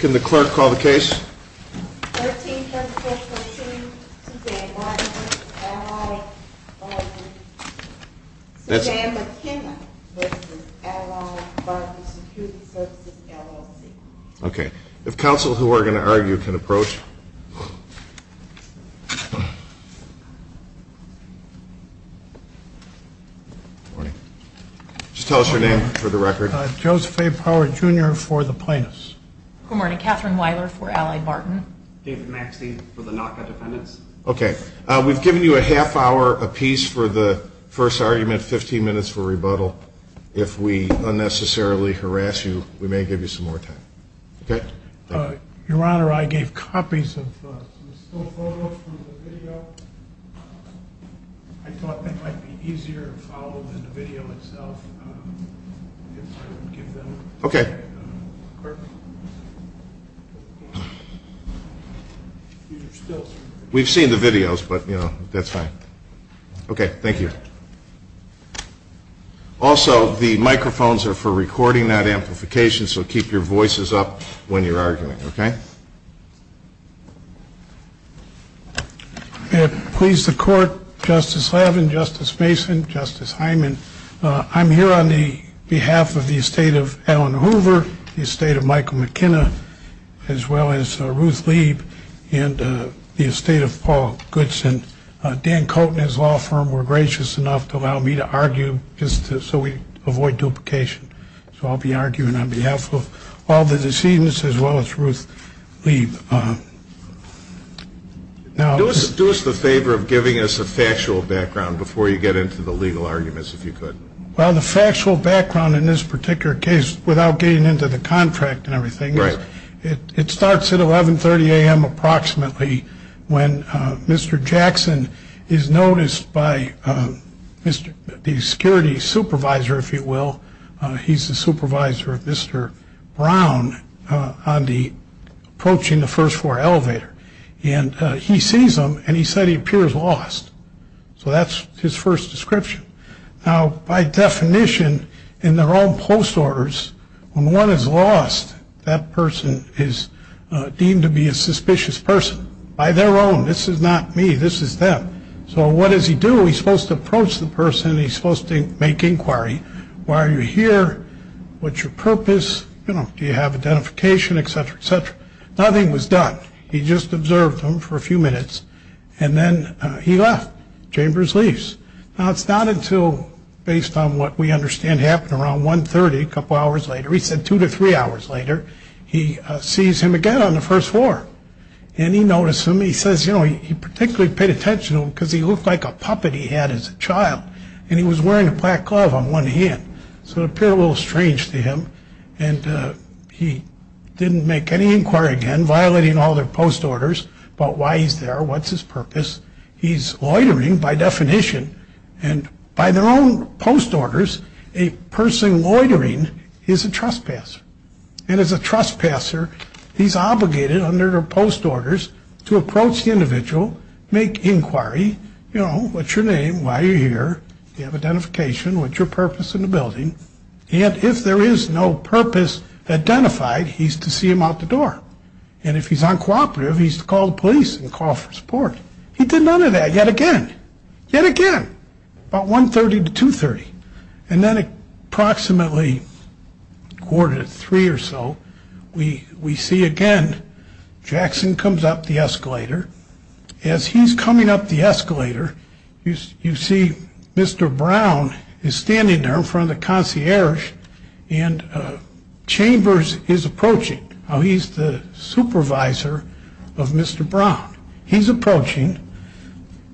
Can the clerk call the case? Okay. If counsel who are going to argue can approach. Just tell us your name for the record. Joseph A. Power, Jr. for the plaintiffs. Good morning. Katherine Weiler for AlliedBarton. David Maxke for the NACA defendants. Okay. We've given you a half hour apiece for the first argument, 15 minutes for rebuttal. If we unnecessarily harass you, we may give you some more time. Okay? Your Honor, I gave copies of the full photo from the video. I thought it might be easier to follow the video itself. Okay. We've seen the videos, but, you know, that's fine. Okay. Thank you. Also, the microphones are for recording that amplification, so keep your voices up when you're arguing. Okay? Please, the Court, Justice Levin, Justice Mason, Justice Hyman, I'm here on behalf of the estate of Alan Hoover, the estate of Michael McKenna, as well as Ruth Leib, and the estate of Paul Goodson. Dan Koten has law firm. We're gracious enough to allow me to argue just so we avoid duplication. So I'll be arguing on behalf of all the decedents as well as Ruth Leib. Do us the favor of giving us a factual background before you get into the legal arguments, if you could. Well, the factual background in this particular case, without getting into the contract and everything, is it starts at 1130 a.m. approximately when Mr. Jackson is noticed by the security supervisor, if you will. He's the supervisor of Mr. Brown on the approaching the first floor elevator. And he sees him, and he said he appears lost. So that's his first description. Now, by definition, in their own post orders, when one is lost, that person is deemed to be a suspicious person. By their own. This is not me. This is them. So what does he do? He's supposed to approach the person. He's supposed to make inquiry. Why are you here? What's your purpose? Do you have identification, et cetera, et cetera? Nothing was done. He just observed him for a few minutes and then he left. Chambers leaves. Now, it's not until based on what we understand happened around one thirty, a couple hours later, he said two to three hours later, he sees him again on the first floor. And he noticed him, he says, you know, he particularly paid attention to him because he looked like a puppet he had as a child. And he was wearing a black glove on one hand. So it's a little strange to him. And he didn't make any inquiry and violating all their post orders. But why is there what's his purpose? He's loitering by definition. And by their own post orders, a person loitering is a trespasser. And as a trespasser, he's obligated under their post orders to approach the individual, make inquiry. You know, what's your name? Why are you here? You have identification. What's your purpose in the building? And if there is no purpose identified, he's to see him out the door. And if he's uncooperative, he's to call the police and call for support. He did none of that yet again. Yet again. About 1.30 to 2.30. And then approximately quarter to three or so, we see again, Jackson comes up the escalator. As he's coming up the escalator, you see Mr. Brown is standing there in front of the concierge. And Chambers is approaching. He's the supervisor of Mr. Brown. He's approaching.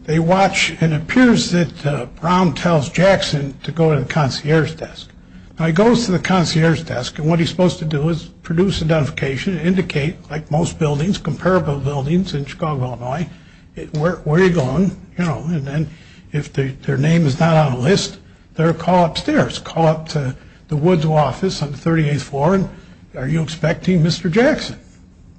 They watch and it appears that Brown tells Jackson to go to the concierge desk. Now he goes to the concierge desk and what he's supposed to do is produce identification and indicate, like most buildings, comparable buildings in Chicago, Illinois, where are you going? And then if their name is not on a list, they're called upstairs, call up to the woods office on the 38th floor. Are you expecting Mr. Jackson?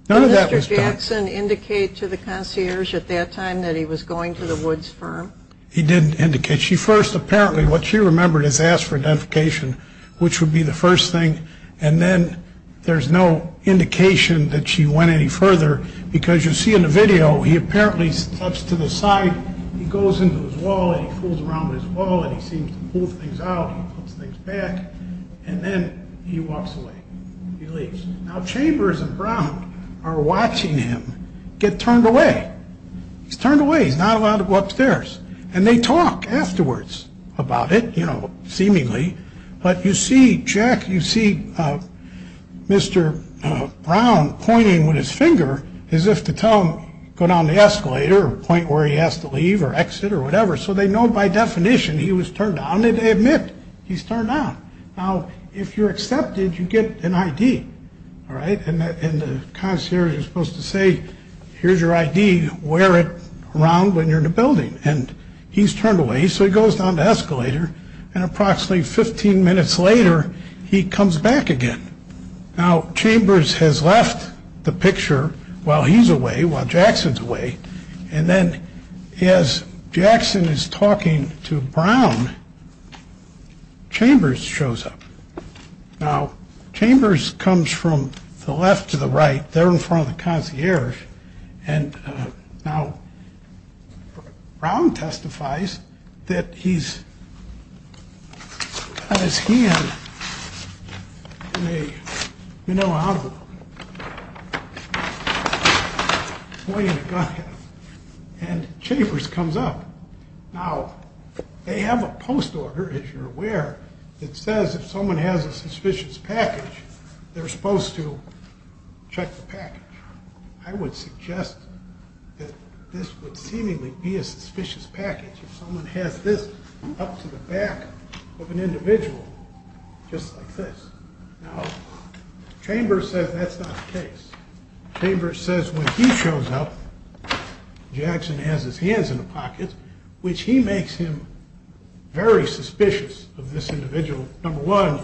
None of that was done. Did Mr. Jackson indicate to the concierge at that time that he was going to the woods firm? He did indicate. She first, apparently, what she remembered is ask for an indication, which would be the first thing. And then there's no indication that she went any further, because you see in the video, he apparently talks to the side. He goes into the wall and he pulls around this wall and he seems to pull things out and put things back. And then he walks away. He leaves. Now Chambers and Brown are watching him get turned away. He's turned away. He's not allowed to go upstairs. And they talk afterwards about it, you know, seemingly. But you see, Jack, you see Mr. Brown pointing with his finger as if to tell him go down the escalator or point where he has to leave or exit or whatever. So they know by definition he was turned on. They admit he's turned on. Now, if you're accepted, you get an I.D. All right. And the concierge is supposed to say, here's your I.D. Wear it around when you're in the building. And he's turned away. So he goes down the escalator and approximately 15 minutes later, he comes back again. Now, Chambers has left the picture while he's away, while Jackson's away. And then as Jackson is talking to Brown, Chambers shows up. Now, Chambers comes from the left to the right. They're in front of the concierge. And now Brown testifies that he's, as he has, you know, pointed a gun at him. And Chambers comes up. Now, they have a post order, if you're aware, that says if someone has a suspicious package, they're supposed to check the package. I would suggest that this would seemingly be a suspicious package if someone has this up to the back of an individual just like this. Now, Chambers says that's not the case. Chambers says when he shows up, Jackson has his hands in the pockets, which he makes him very suspicious of this individual. Number one,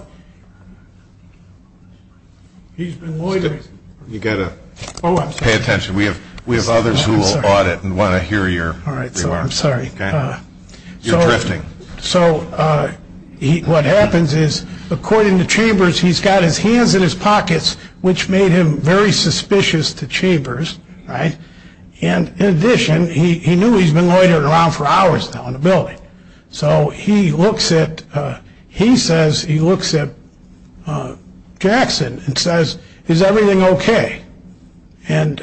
he's been loitering. You've got to pay attention. We have others who will audit and want to hear your remarks. I'm sorry. You're drifting. So what happens is, according to Chambers, he's got his hands in his pockets, which made him very suspicious to Chambers. And in addition, he knew he's been loitering around for hours now in the building. So he looks at, he says, he looks at Jackson and says, is everything OK? And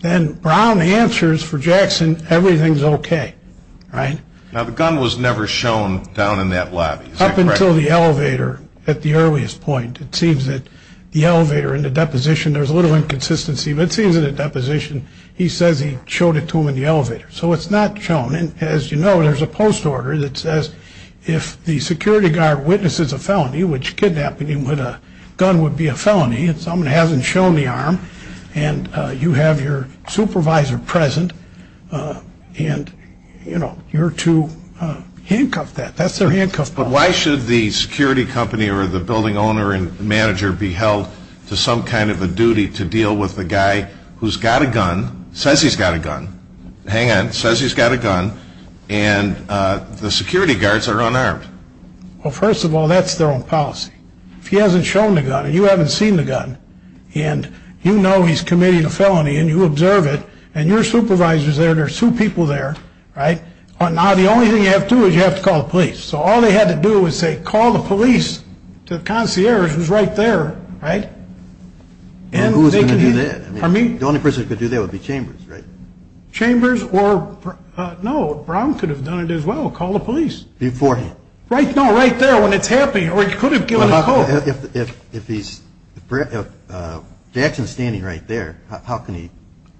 then Brown answers for Jackson, everything's OK. Now, the gun was never shown down in that lab. Up until the elevator at the earliest point. It seems that the elevator in the deposition, there's a little inconsistency, but it seems in the deposition, he says he showed it to him in the elevator. So it's not shown. And as you know, there's a post order that says if the security guard witnesses a felony, which kidnapping him with a gun would be a felony, and someone hasn't shown the arm, and you have your supervisor present, and, you know, you're to handcuff that. That's their handcuff. But why should the security company or the building owner and manager be held to some kind of a duty to deal with the guy who's got a gun, says he's got a gun. Hang on, says he's got a gun, and the security guards are unarmed. Well, first of all, that's their own policy. If he hasn't shown the gun and you haven't seen the gun, and you know he's committed a felony and you observe it, and your supervisor's there, there's two people there, right? Now, the only thing you have to do is you have to call the police. So all they had to do was say, call the police to the concierge who's right there, right? And who's going to do that? The only person who could do that would be Chambers, right? Chambers or, no, Brown could have done it as well, call the police. Before he... Right, no, right there when it's happening, or he could have given a call. If he's, if Jackson's standing right there, how can he...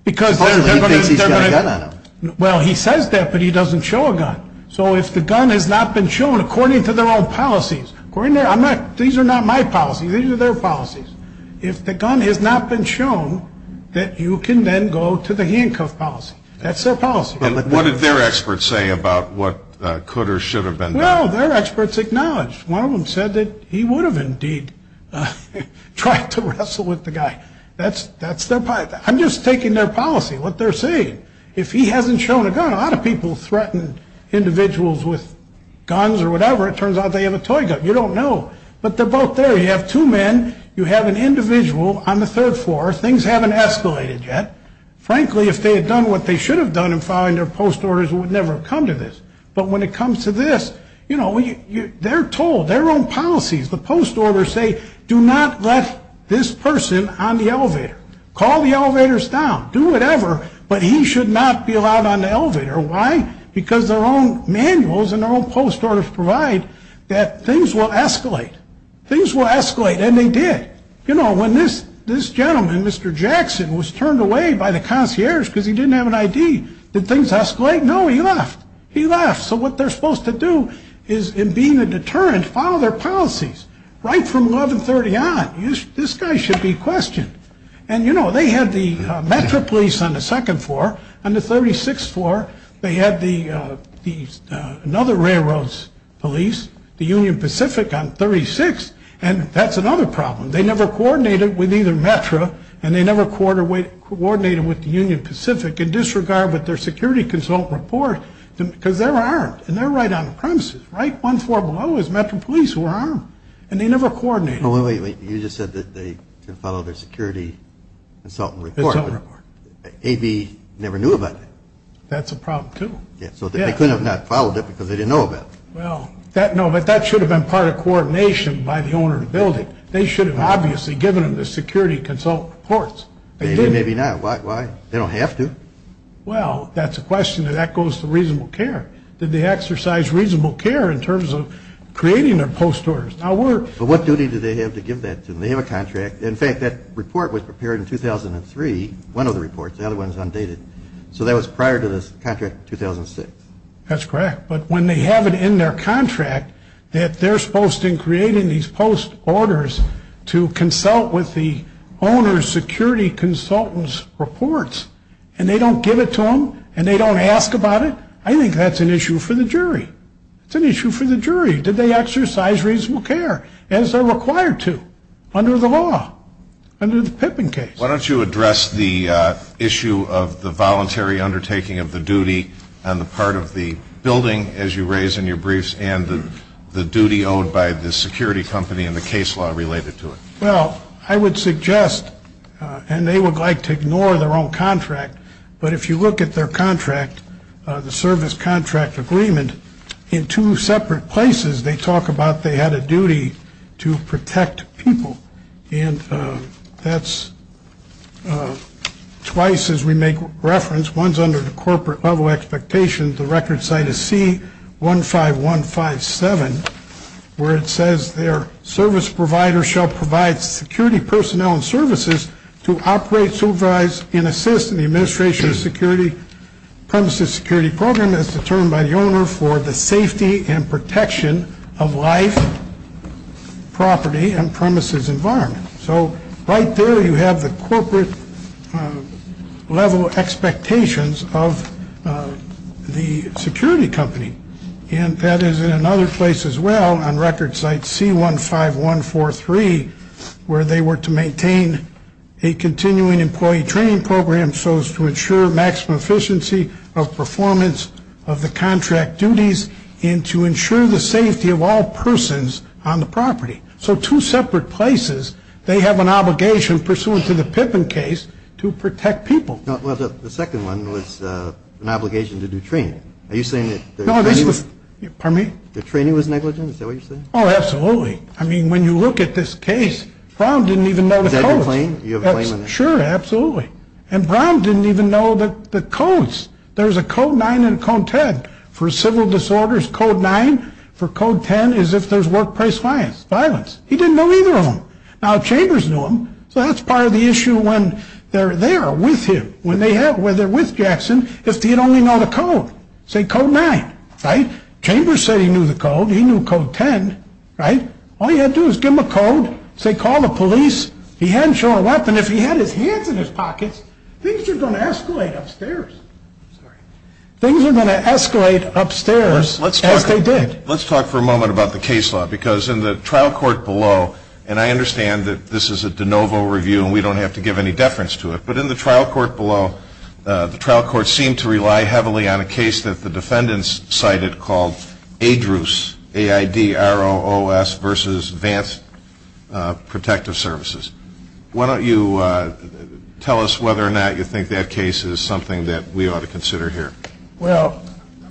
Because they're going to... He thinks he's got a gun on him. Well, he says that, but he doesn't show a gun. So if the gun has not been shown, according to their own policies, according to their, I'm not, these are not my policies, these are their policies. If the gun has not been shown, that you can then go to the handcuff policy. That's their policy. And what did their experts say about what could or should have been done? Well, their experts acknowledged. One of them said that he would have indeed tried to wrestle with the guy. That's their policy. I'm just taking their policy, what they're saying. If he hasn't shown a gun, a lot of people threaten individuals with guns or whatever. It turns out they have a toy gun. You don't know. But they're both there. You have two men. You have an individual on the third floor. Things haven't escalated yet. Frankly, if they had done what they should have done in following their post orders, it would never have come to this. But when it comes to this, you know, they're told, their own policies, the post orders say, do not let this person on the elevator. Call the elevators down. Do whatever, but he should not be allowed on the elevator. Why? Because their own manuals and their own post orders provide that things will escalate. Things will escalate, and they did. You know, when this gentleman, Mr. Jackson, was turned away by the concierge because he didn't have an ID, did things escalate? No, he left. He left. So what they're supposed to do is, in being a deterrent, follow their policies. Right from 1130 on, this guy should be questioned. And, you know, they had the Metro Police on the second floor. On the 36th floor, they had another railroad's police, the Union Pacific, on 36th. And that's another problem. They never coordinated with either Metro, and they never coordinated with the Union Pacific, in disregard with their security consultant report, because they're armed, and they're right on the premises. Right one floor below is Metro Police. We're armed. And they never coordinated. Wait, wait, wait. You just said that they followed their security consultant report. AV never knew about that. That's a problem, too. Yeah, so they couldn't have not followed it because they didn't know about it. Well, no, but that should have been part of coordination by the owner of the building. They should have obviously given them the security consultant reports. They didn't. Maybe not. Why? They don't have to. Well, that's a question that echoes the reasonable care. Did they exercise reasonable care in terms of creating their post orders? Now, we're— But what duty did they have to give that to them? They have a contract. In fact, that report was prepared in 2003, one of the reports. The other one is undated. So that was prior to this contract in 2006. That's correct. But when they have it in their contract that they're supposed to be creating these post orders to consult with the owner's security consultant's reports, and they don't give it to them, and they don't ask about it, I think that's an issue for the jury. It's an issue for the jury. Did they exercise reasonable care as they're required to under the law, under the Pippin case? Why don't you address the issue of the voluntary undertaking of the duty on the part of the building, as you raise in your briefs, and the duty owned by the security company and the case law related to it? Well, I would suggest, and they would like to ignore their own contract, but if you look at their contract, the service contract agreement, in two separate places, they talk about they had a duty to protect people. And that's twice, as we make reference, once under the corporate level expectations. The record site is C15157, where it says, their service provider shall provide security personnel and services to operate, supervise, and assist in the administration of security. Premises security program is determined by the owner for the safety and protection of life, property, and premises environment. So, right there you have the corporate level expectations of the security company. And that is in another place as well, on record site C15143, where they were to maintain a continuing employee training program, so as to ensure maximum efficiency of performance of the contract duties, and to ensure the safety of all persons on the property. So, two separate places, they have an obligation pursuant to the Pippin case to protect people. Well, the second one was an obligation to do training. Are you saying that the training was negligent? Oh, absolutely. I mean, when you look at this case, Brown didn't even know the codes. Sure, absolutely. And Brown didn't even know the codes. There's a code 9 and a code 10 for civil disorders. Code 9 for code 10 is if there's workplace violence. He didn't know either of them. Now, Chambers knew them, so that's part of the issue when they're there with him. When they're with Jackson, if he'd only know the code, say code 9, right? Chambers said he knew the code, he knew code 10, right? All he had to do was give him a code, say call the police, he hadn't shown a weapon. If he had his hands in his pockets, things are going to escalate upstairs. Things are going to escalate upstairs as they did. Let's talk for a moment about the case law, because in the trial court below, and I understand that this is a de novo review and we don't have to give any deference to it, but in the trial court below, the trial court seemed to rely heavily on a case that the defendants cited called AIDROS, A-I-D-R-O-O-S, versus Advanced Protective Services. Why don't you tell us whether or not you think that case is something that we ought to consider here? Well,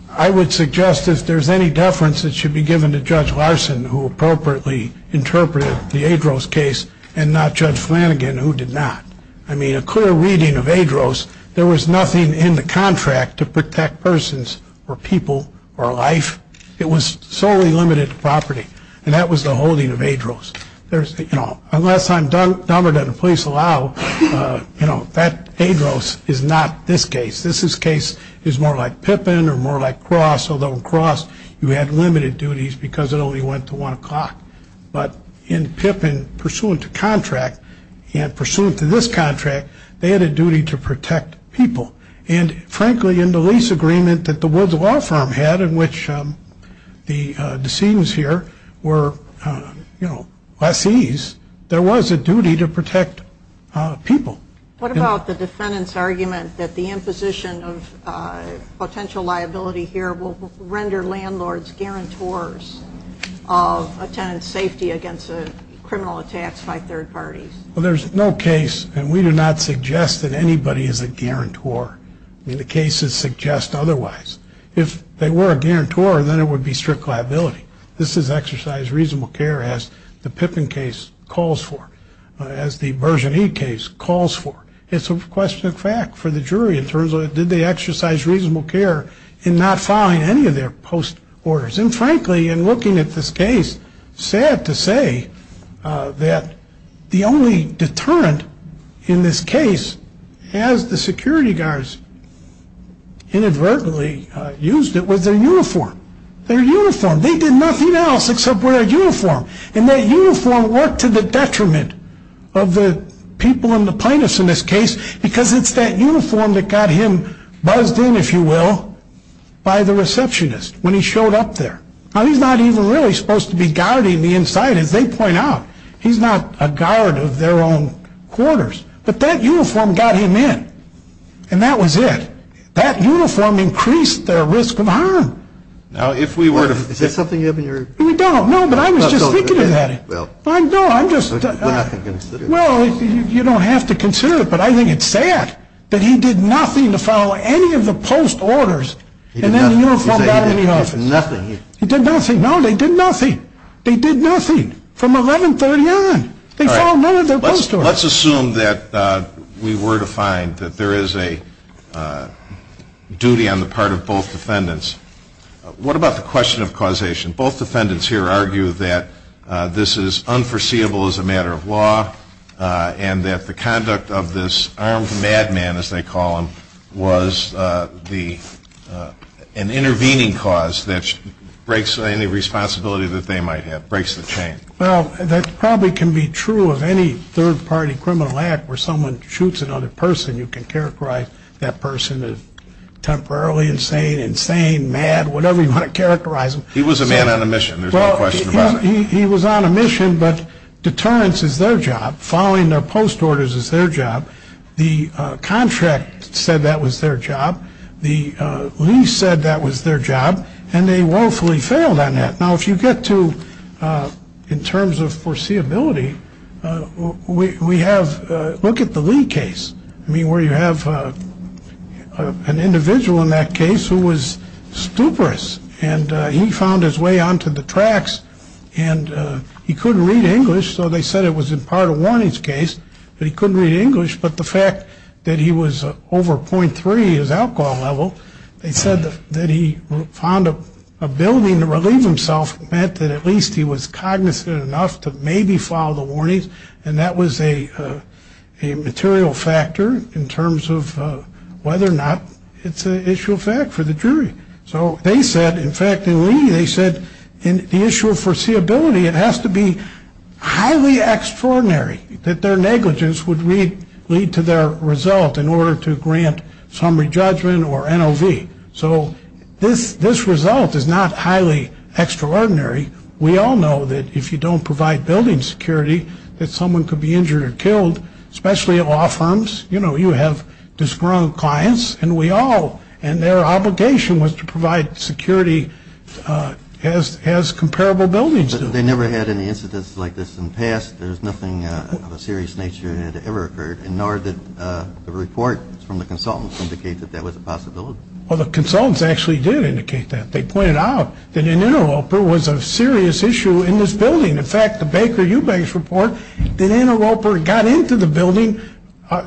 I would suggest if there's any deference, it should be given to Judge Larson, who appropriately interpreted the AIDROS case, and not Judge Flanagan, who did not. I mean, a clear reading of AIDROS, there was nothing in the contract to protect persons or people or life. It was solely limited to property. And that was the holding of AIDROS. The last time Denver did a police allow, you know, that AIDROS is not this case. This case is more like Pippin or more like Cross, although in Cross you had limited duties because it only went to 1 o'clock. But in Pippin, pursuant to contract, and pursuant to this contract, they had a duty to protect people. And frankly, in the lease agreement that the Woods Law Firm had, in which the decedents here were, you know, by fees, there was a duty to protect people. What about the defendant's argument that the imposition of potential liability here will render landlords guarantors of a tenant's safety against a criminal attack by third parties? Well, there's no case, and we do not suggest that anybody is a guarantor. The cases suggest otherwise. If they were a guarantor, then it would be strict liability. This is exercised reasonable care as the Pippin case calls for, as the Version E case calls for. It's a question of fact for the jury in terms of did they exercise reasonable care in not filing any of their post orders. And frankly, in looking at this case, sad to say that the only deterrent in this case, as the security guards inadvertently used it, was their uniform. Their uniform. They did nothing else except wear a uniform. And that uniform worked to the detriment of the people and the plaintiffs in this case, because it's that uniform that got him buzzed in, if you will, by the receptionist when he showed up there. Now, he's not even really supposed to be guarding the inside, as they point out. He's not a guard of their own quarters. But that uniform got him in, and that was it. That uniform increased their risk of harm. Now, if we were to... Is there something in your... We don't. No, but I was just thinking of that. Well... No, I'm just... You don't have to consider it. Well, you don't have to consider it, but I think it's sad that he did nothing to follow any of the post orders, and then the uniform got him in the office. He did nothing. He did nothing. No, they did nothing. They did nothing from 1130 on. They called none of their post orders. Let's assume that we were to find that there is a duty on the part of both defendants. What about the question of causation? Both defendants here argue that this is unforeseeable as a matter of law, and that the conduct of this armed madman, as they call him, was an intervening cause that breaks any responsibility that they might have, breaks the chain. Well, that probably can be true of any third-party criminal act where someone shoots another person. You can characterize that person as temporarily insane, insane, mad, whatever you want to characterize them. He was a man on a mission. There's no question about it. He was on a mission, but deterrence is their job. Following their post orders is their job. The contract said that was their job. The lease said that was their job, and they woefully failed on that. Now, if you get to, in terms of foreseeability, we have, look at the Lee case. I mean, where you have an individual in that case who was stuporous, and he found his way onto the tracks, and he couldn't read English, so they said it was in part a warnings case that he couldn't read English, but the fact that he was over .3 his alcohol level, they said that he found an ability to relieve himself meant that at least he was cognizant enough to maybe follow the warnings, and that was a material factor in terms of whether or not it's an issue of fact for the jury. So they said, in fact, in Lee, they said, in the issue of foreseeability, it has to be highly extraordinary that their negligence would lead to their result in order to grant summary judgment or NOV. So this result is not highly extraordinary. We all know that if you don't provide building security, that someone could be injured or killed, especially at law firms. You know, you have disgruntled clients, and we all, and their obligation was to provide security as comparable buildings. But they never had any incidents like this in the past. There's nothing of a serious nature that ever occurred, nor did a report from the consultants indicate that that was a possibility. Well, the consultants actually did indicate that. They pointed out that an interloper was a serious issue in this building. In fact, the Baker-Eubanks report, an interloper got into the building,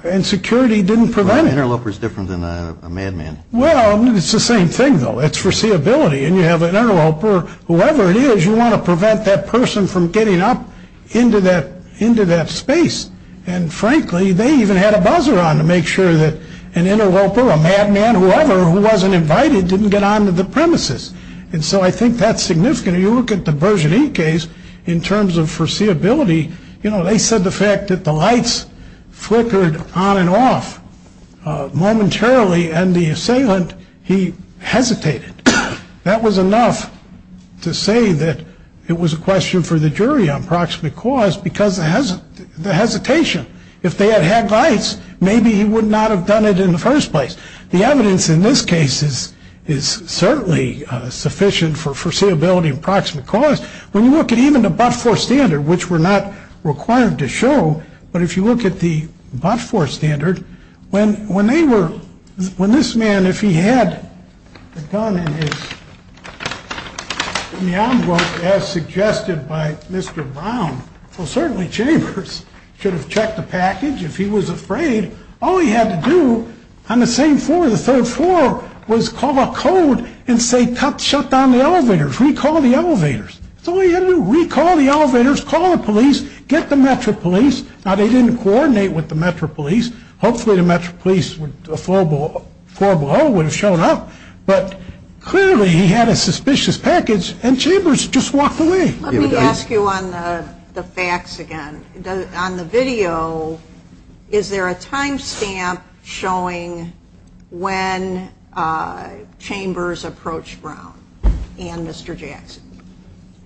and security didn't prevent it. An interloper is different than a madman. Well, it's the same thing, though. It's foreseeability, and you have an interloper. Whoever it is, you want to prevent that person from getting up into that space. And, frankly, they even had a buzzer on to make sure that an interloper, a madman, whoever, who wasn't invited, didn't get onto the premises. And so I think that's significant. If you look at the Bergen E. case, in terms of foreseeability, you know, they said the fact that the lights flickered on and off momentarily, and the assailant, he hesitated. That was enough to say that it was a question for the jury on proximate cause, because of the hesitation. If they had had lights, maybe he would not have done it in the first place. The evidence in this case is certainly sufficient for foreseeability and proximate cause. When you look at even the but-for standard, which we're not required to show, but if you look at the but-for standard, when this man, if he had a gun in his hand, as suggested by Mr. Brown, well, certainly Chambers should have checked the package if he was afraid. All he had to do on the third floor was call a code and say, shut down the elevators, recall the elevators. That's all he had to do. Recall the elevators, call the police, get the Metro Police. Now, they didn't coordinate with the Metro Police. Hopefully the Metro Police would have shown up, but clearly he had a suspicious package, and Chambers just walked away. Let me ask you on the facts again. On the video, is there a time stamp showing when Chambers approached Brown and Mr. Jackson?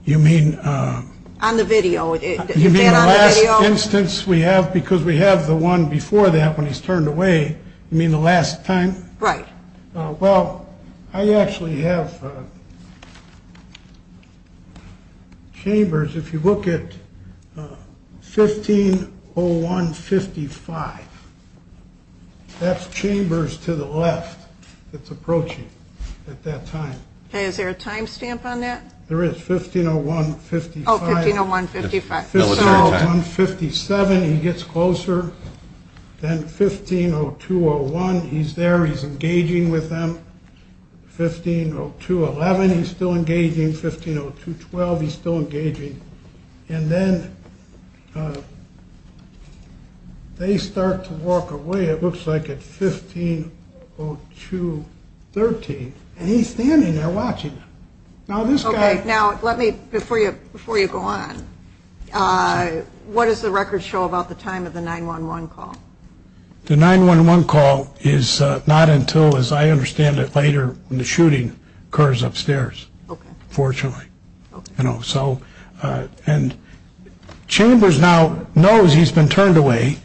You mean? On the video. You mean the last instance we have? Because we have the one before that when he's turned away. You mean the last time? Right. Well, I actually have Chambers. If you look at 150155, that's Chambers to the left that's approaching at that time. Is there a time stamp on that? There is, 150155. Oh, 150155. 150157, he gets closer. Then 150201, he's there, he's engaging with them. 150211, he's still engaging. 150212, he's still engaging. And then they start to walk away, it looks like, at 150213. And he's standing there watching. Now, before you go on, what does the record show about the time of the 911 call? The 911 call is not until, as I understand it, later when the shooting occurs upstairs, fortunately. And Chambers now knows he's been turned away.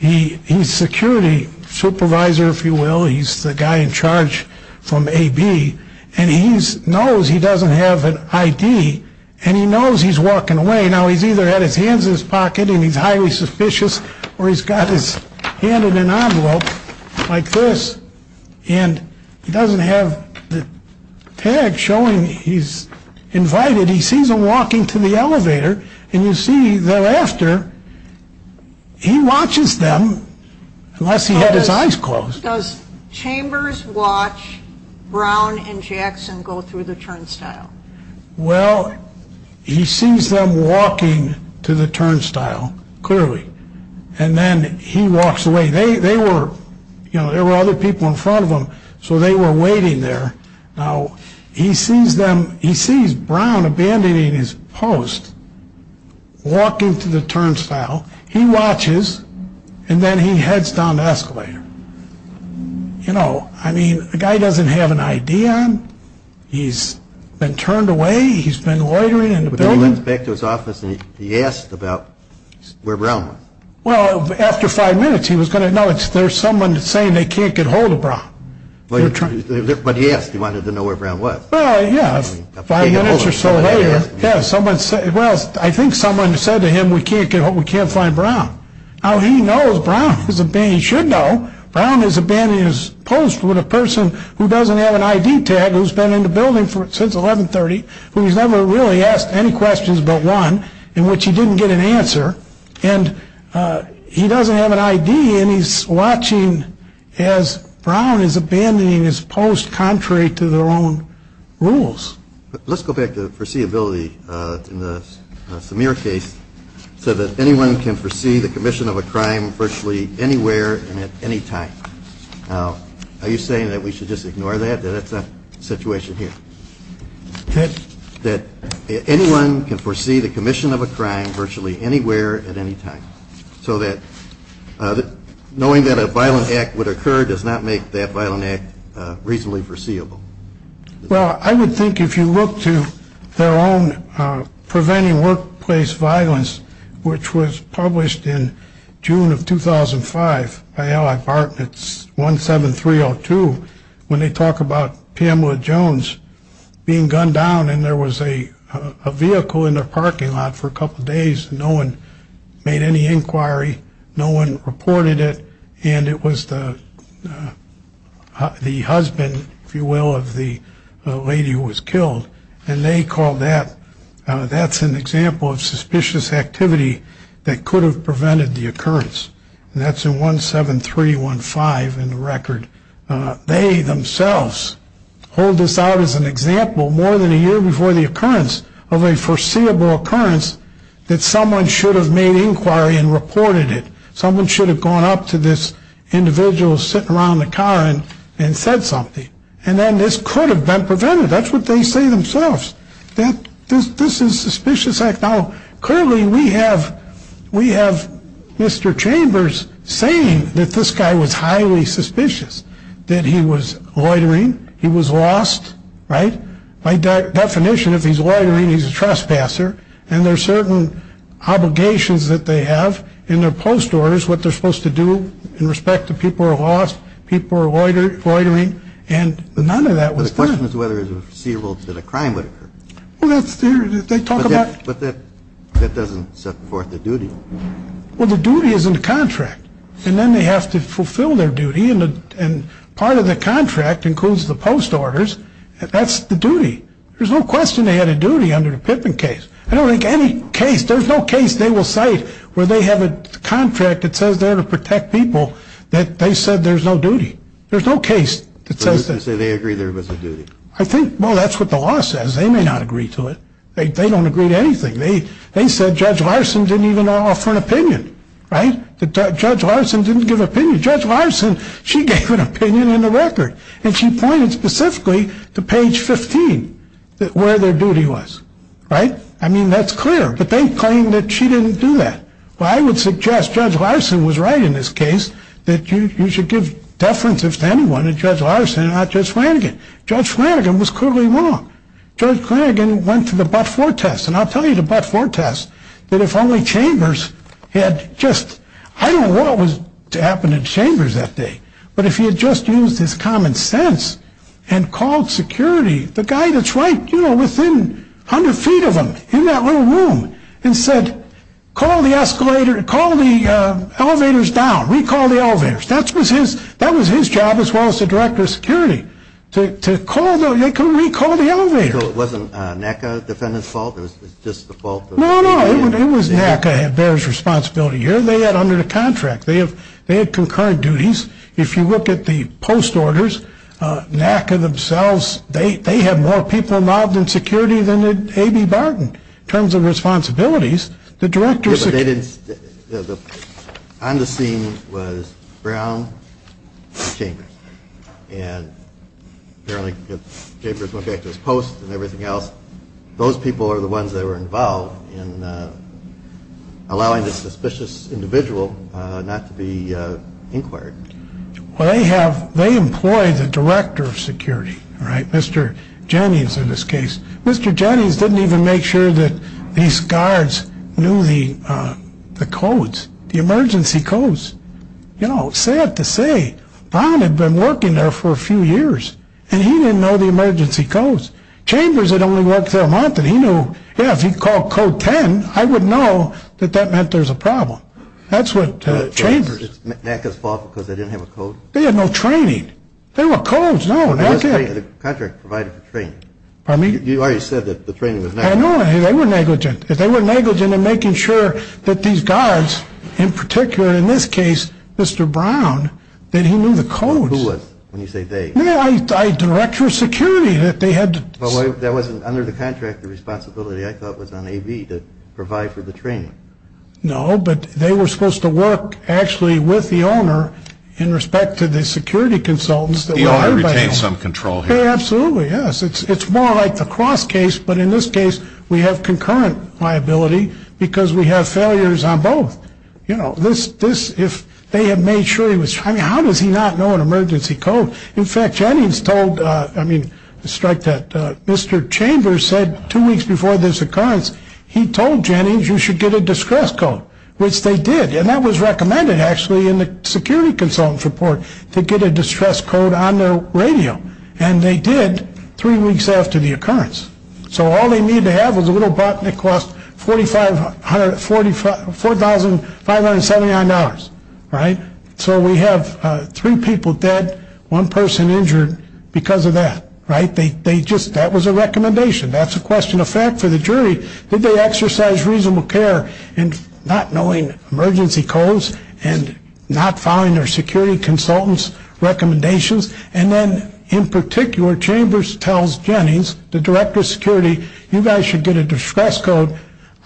He's security supervisor, if you will. He's the guy in charge from AB. And he knows he doesn't have an ID. And he knows he's walking away. Now, he's either had his hands in his pocket and he's highly suspicious, or he's got his hand in an envelope like this. And he doesn't have the tag showing he's invited. He sees them walking to the elevator. And you see thereafter, he watches them, unless he had his eyes closed. First, does Chambers watch Brown and Jackson go through the turnstile? Well, he sees them walking to the turnstile, clearly. And then he walks away. There were other people in front of them, so they were waiting there. Now, he sees Brown abandoning his post, walking to the turnstile. He watches. And then he heads down the escalator. You know, I mean, the guy doesn't have an ID on him. He's been turned away. He's been loitering in the building. But he went back to his office and he asked about where Brown was. Well, after five minutes, he was going to know. There's someone saying they can't get hold of Brown. But he asked. He wanted to know where Brown was. Well, yeah. Five minutes or so later. Well, I think someone said to him, we can't find Brown. Now, he knows Brown is a man he should know. Brown has abandoned his post with a person who doesn't have an ID tag, who's been in the building since 1130, who has never really asked any questions but one, in which he didn't get an answer. And he doesn't have an ID, and he's watching as Brown is abandoning his post contrary to their own rules. Let's go back to foreseeability in the Samir case, so that anyone can foresee the commission of a crime virtually anywhere and at any time. Are you saying that we should just ignore that, that it's a situation here? Yes. That anyone can foresee the commission of a crime virtually anywhere at any time, so that knowing that a violent act would occur does not make that violent act reasonably foreseeable. Well, I would think if you look to their own Preventing Workplace Violence, which was published in June of 2005 by L.I. Bartlett's 17302, when they talk about Pamela Jones being gunned down and there was a vehicle in their parking lot for a couple days, no one made any inquiry, no one reported it, and it was the husband, if you will, of the lady who was killed. And they call that, that's an example of suspicious activity that could have prevented the occurrence. And that's in 17315 in the record. They themselves hold this out as an example more than a year before the occurrence, of a foreseeable occurrence, that someone should have made inquiry and reported it. Someone should have gone up to this individual sitting around in the car and said something. And then this could have been prevented. That's what they say themselves. This is suspicious act. Now, clearly we have Mr. Chambers saying that this guy was highly suspicious, that he was loitering, he was lost, right? By definition, if he's loitering, he's a trespasser, and there's certain obligations that they have in their post orders, what they're supposed to do in respect to people who are lost, people who are loitering, and none of that was clear. The question is whether it was foreseeable that a crime would occur. Well, they talk about... But that doesn't support the duty. Well, the duty is in the contract. And then they have to fulfill their duty, and part of the contract includes the post orders, and that's the duty. There's no question they had a duty under the Pittman case. I don't think any case, there's no case they will cite where they have a contract that says they're to protect people that they said there's no duty. There's no case that says that. So they agree there was a duty. I think, well, that's what the law says. They may not agree to it. They don't agree to anything. They said Judge Larson didn't even offer an opinion, right? Judge Larson didn't give an opinion. Judge Larson, she gave an opinion in the record, and she pointed specifically to page 15 where their duty was. Right? I mean, that's clear. But they claim that she didn't do that. Well, I would suggest Judge Larson was right in this case, that you should give deference to anyone and Judge Larson, not Judge Flanagan. Judge Flanagan was clearly wrong. Judge Flanagan went to the but-for test, and I'll tell you the but-for test, that if only Chambers had just... I don't know what was to happen to Chambers that day, but if he had just used his common sense and called security, the guy that's right, you know, within 100 feet of him, in that little room, and said, call the escalator, call the elevators down. Recall the elevators. That was his job as well as the director of security, to call the, to recall the elevators. So it wasn't NACA defendant's fault? It was just the fault of... No, no. It was NACA. There was responsibility here. They had under the contract. They had concurrent duties. If you look at the post orders, NACA themselves, they had more people involved in security than they did A.B. Barton. In terms of responsibilities, the director... Yes, but they didn't... On the scene was Brown and Chambers, and apparently Chambers looked at those posts and everything else. Those people are the ones that were involved in allowing a suspicious individual not to be inquired. Well, they have, they employed the director of security, Mr. Jennings in this case. Mr. Jennings didn't even make sure that these guards knew the codes, the emergency codes. You know, sad to say, Brown had been working there for a few years, and he didn't know the emergency codes. Chambers had only worked for a month, and he knew, yeah, if he called code 10, I would know that that meant there was a problem. That's what Chambers... Was it NACA's fault because they didn't have a code? They had no training. There were codes. No, that's it. The contract provided for training. You already said that the training was negligent. I know, they were negligent. They were negligent in making sure that these guards, in particular in this case, Mr. Brown, that he knew the codes. Who was, when you say they? No, director of security. They had to... That wasn't under the contractor's responsibility. I thought it was on AV to provide for the training. No, but they were supposed to work actually with the owner in respect to the security consultants. The owner retained some control here. Absolutely, yes. It's more like the cross case, but in this case, we have concurrent liability because we have failures on both. You know, this, if they had made sure he was... I mean, how does he not know an emergency code? In fact, Jennings told... Let me strike that. Mr. Chambers said two weeks before this occurrence, he told Jennings you should get a distress code, which they did, and that was recommended actually in the security consultant's report to get a distress code on their radio, and they did three weeks after the occurrence. So all they needed to have was a little button. It cost $4,579, right? So we have three people dead, one person injured because of that, right? That was a recommendation. That's a question of fact for the jury. Did they exercise reasonable care in not knowing emergency codes and not following their security consultant's recommendations? And then in particular, Chambers tells Jennings, the director of security, you guys should get a distress code.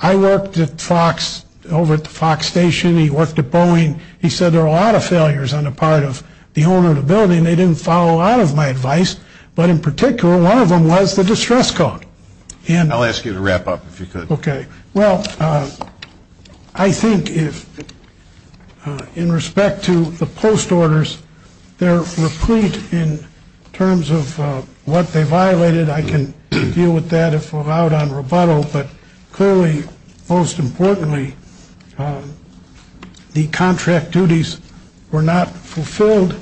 I worked at Fox, over at the Fox station. He worked at Boeing. He said there were a lot of failures on the part of the owner of the building. They didn't follow a lot of my advice, but in particular, one of them was the distress code. I'll ask you to wrap up if you could. Okay. Well, I think in respect to the post orders, they're complete in terms of what they violated. I can deal with that if we're out on rebuttal, but clearly, most importantly, the contract duties were not fulfilled.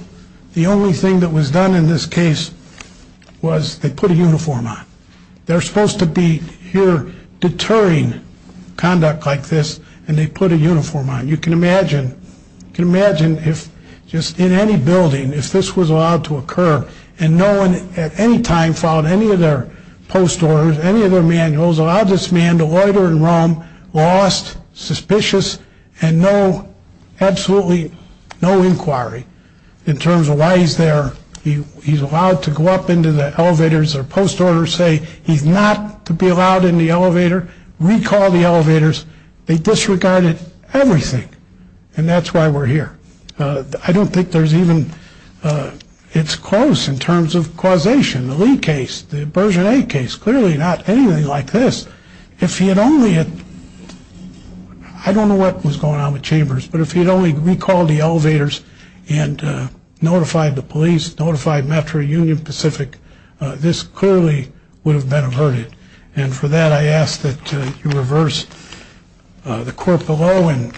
The only thing that was done in this case was they put a uniform on. They're supposed to be here deterring conduct like this, and they put a uniform on. You can imagine, just in any building, if this was allowed to occur and no one at any time followed any of their post orders, any of their manuals, they allowed this man to loiter in Rome, lost, suspicious, and no, absolutely no inquiry in terms of why he's there. He's allowed to go up into the elevators. Their post orders say he's not to be allowed in the elevator. Recall the elevators. They disregarded everything, and that's why we're here. I don't think there's even, it's close in terms of causation. The Lee case, the version eight case, clearly not anything like this. If he had only had, I don't know what was going on with Chambers, but if he had only recalled the elevators and notified the police, notified Metro Union Pacific, this clearly would have been averted. And for that, I ask that you reverse the court below and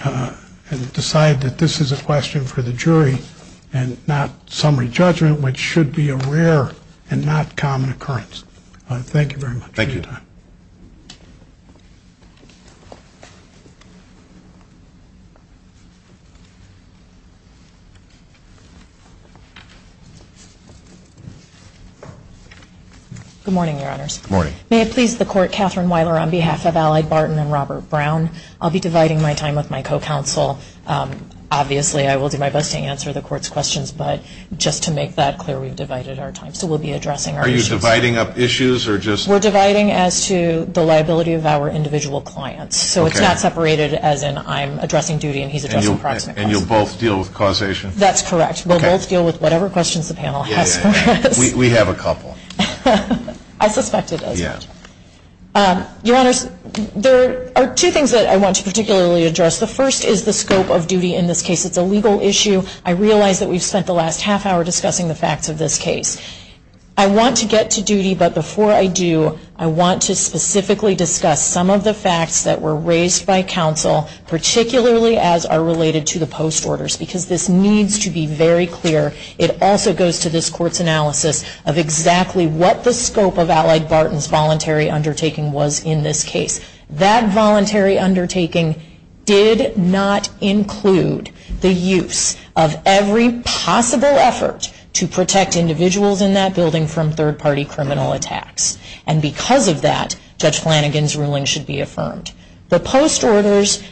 decide that this is a question for the jury and not summary judgment, which should be a rare and not common occurrence. Thank you very much. Thank you. Good morning, Your Honors. Good morning. May it please the court, Catherine Weiler on behalf of Allied Barton and Robert Brown. I'll be dividing my time with my co-counsel. Obviously, I will do my best to answer the court's questions, but just to make that clear, we've divided our time. Are you dividing up issues or just... We're dividing as to the liability of our individual clients. So it's not separated as in I'm addressing duty and he's addressing private costs. And you'll both deal with causation? That's correct. We'll both deal with whatever questions the panel has. We have a couple. I suspect it is. Your Honors, there are two things that I want to particularly address. The first is the scope of duty in this case. It's a legal issue. I realize that we've spent the last half hour discussing the facts of this case. I want to get to duty, but before I do, I want to specifically discuss some of the facts that were raised by counsel, particularly as are related to the post orders, because this needs to be very clear. It also goes to this court's analysis of exactly what the scope of Allied Barton's voluntary undertaking was in this case. That voluntary undertaking did not include the use of every possible effort to protect individuals in that building from third-party criminal attacks. And because of that, Judge Flanagan's ruling should be affirmed. The post orders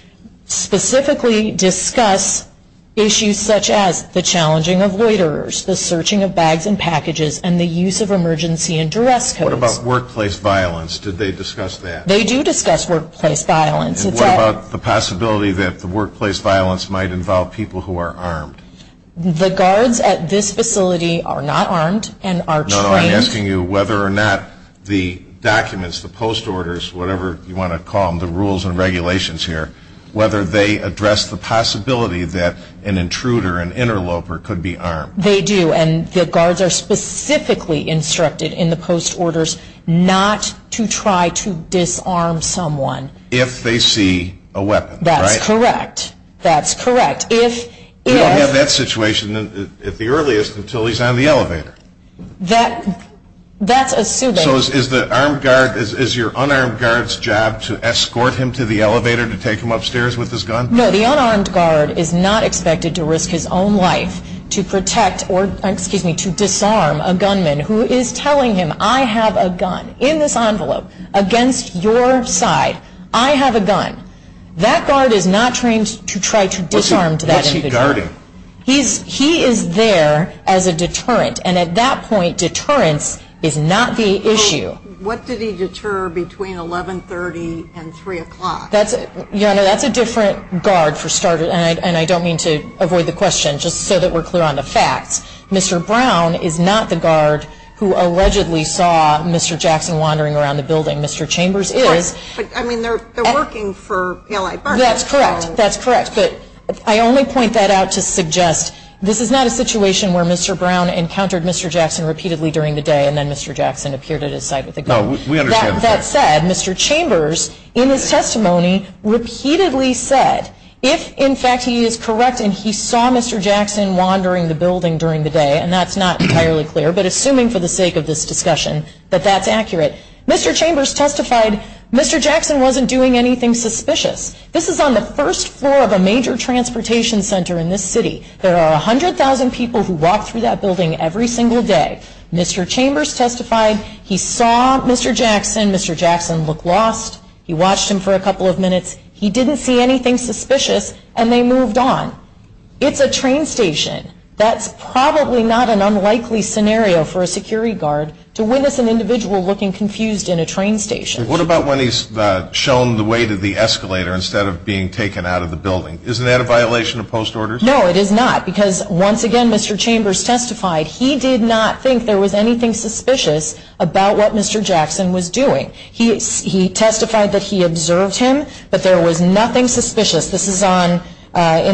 specifically discuss issues such as the challenging of waiters, the searching of bags and packages, and the use of emergency and direct code. What about workplace violence? Did they discuss that? They do discuss workplace violence. What about the possibility that the workplace violence might involve people who are armed? The guards at this facility are not armed and are trained. No, I'm asking you whether or not the documents, the post orders, whatever you want to call them, the rules and regulations here, whether they address the possibility that an intruder, an interloper, could be armed. They do, and the guards are specifically instructed in the post orders not to try to disarm someone. If they see a weapon, right? That's correct. That's correct. You don't get that situation at the earliest until he's on the elevator. That's assuming. So is your unarmed guard's job to escort him to the elevator to take him upstairs with his gun? No, the unarmed guard is not expected to risk his own life to protect or, excuse me, to disarm a gunman who is telling him, I have a gun in this envelope against your side. I have a gun. That guard is not trained to try to disarm that individual. What's he guarding? He is there as a deterrent, and at that point deterrence is not the issue. What did he deter between 1130 and 3 o'clock? That's a different guard for starters, and I don't mean to avoid the question just so that we're clear on the facts. Mr. Brown is not the guard who allegedly saw Mr. Jackson wandering around the building. Mr. Chambers is. I mean, they're working for the Allied Forces. That's correct. That's correct. But I only point that out to suggest this is not a situation where Mr. Brown encountered Mr. Jackson repeatedly during the day and then Mr. Jackson appeared at his side with a gun. No, we understand that. That said, Mr. Chambers in his testimony repeatedly said if, in fact, he is correct and he saw Mr. Jackson wandering the building during the day, and that's not entirely clear, but assuming for the sake of this discussion that that's accurate, Mr. Chambers testified Mr. Jackson wasn't doing anything suspicious. This is on the first floor of a major transportation center in this city. There are 100,000 people who walk through that building every single day. Mr. Chambers testified he saw Mr. Jackson. Mr. Jackson looked lost. He watched him for a couple of minutes. He didn't see anything suspicious, and they moved on. It's a train station. That's probably not an unlikely scenario for a security guard to witness an individual looking confused in a train station. What about when he's shown the way to the escalator instead of being taken out of the building? Isn't that a violation of post orders? No, it is not because, once again, Mr. Chambers testified he did not think there was anything suspicious about what Mr. Jackson was doing. He testified that he observed him, that there was nothing suspicious. This is in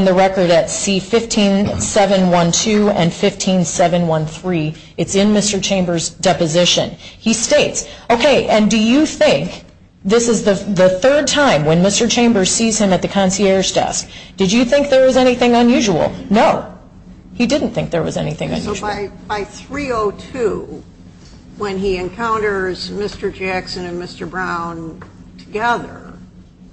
the record at C-15712 and C-15713. It's in Mr. Chambers' deposition. Okay, and do you think this is the third time when Mr. Chambers sees him at the concierge desk? Did you think there was anything unusual? No, he didn't think there was anything unusual. So by 3-02, when he encounters Mr. Jackson and Mr. Brown together,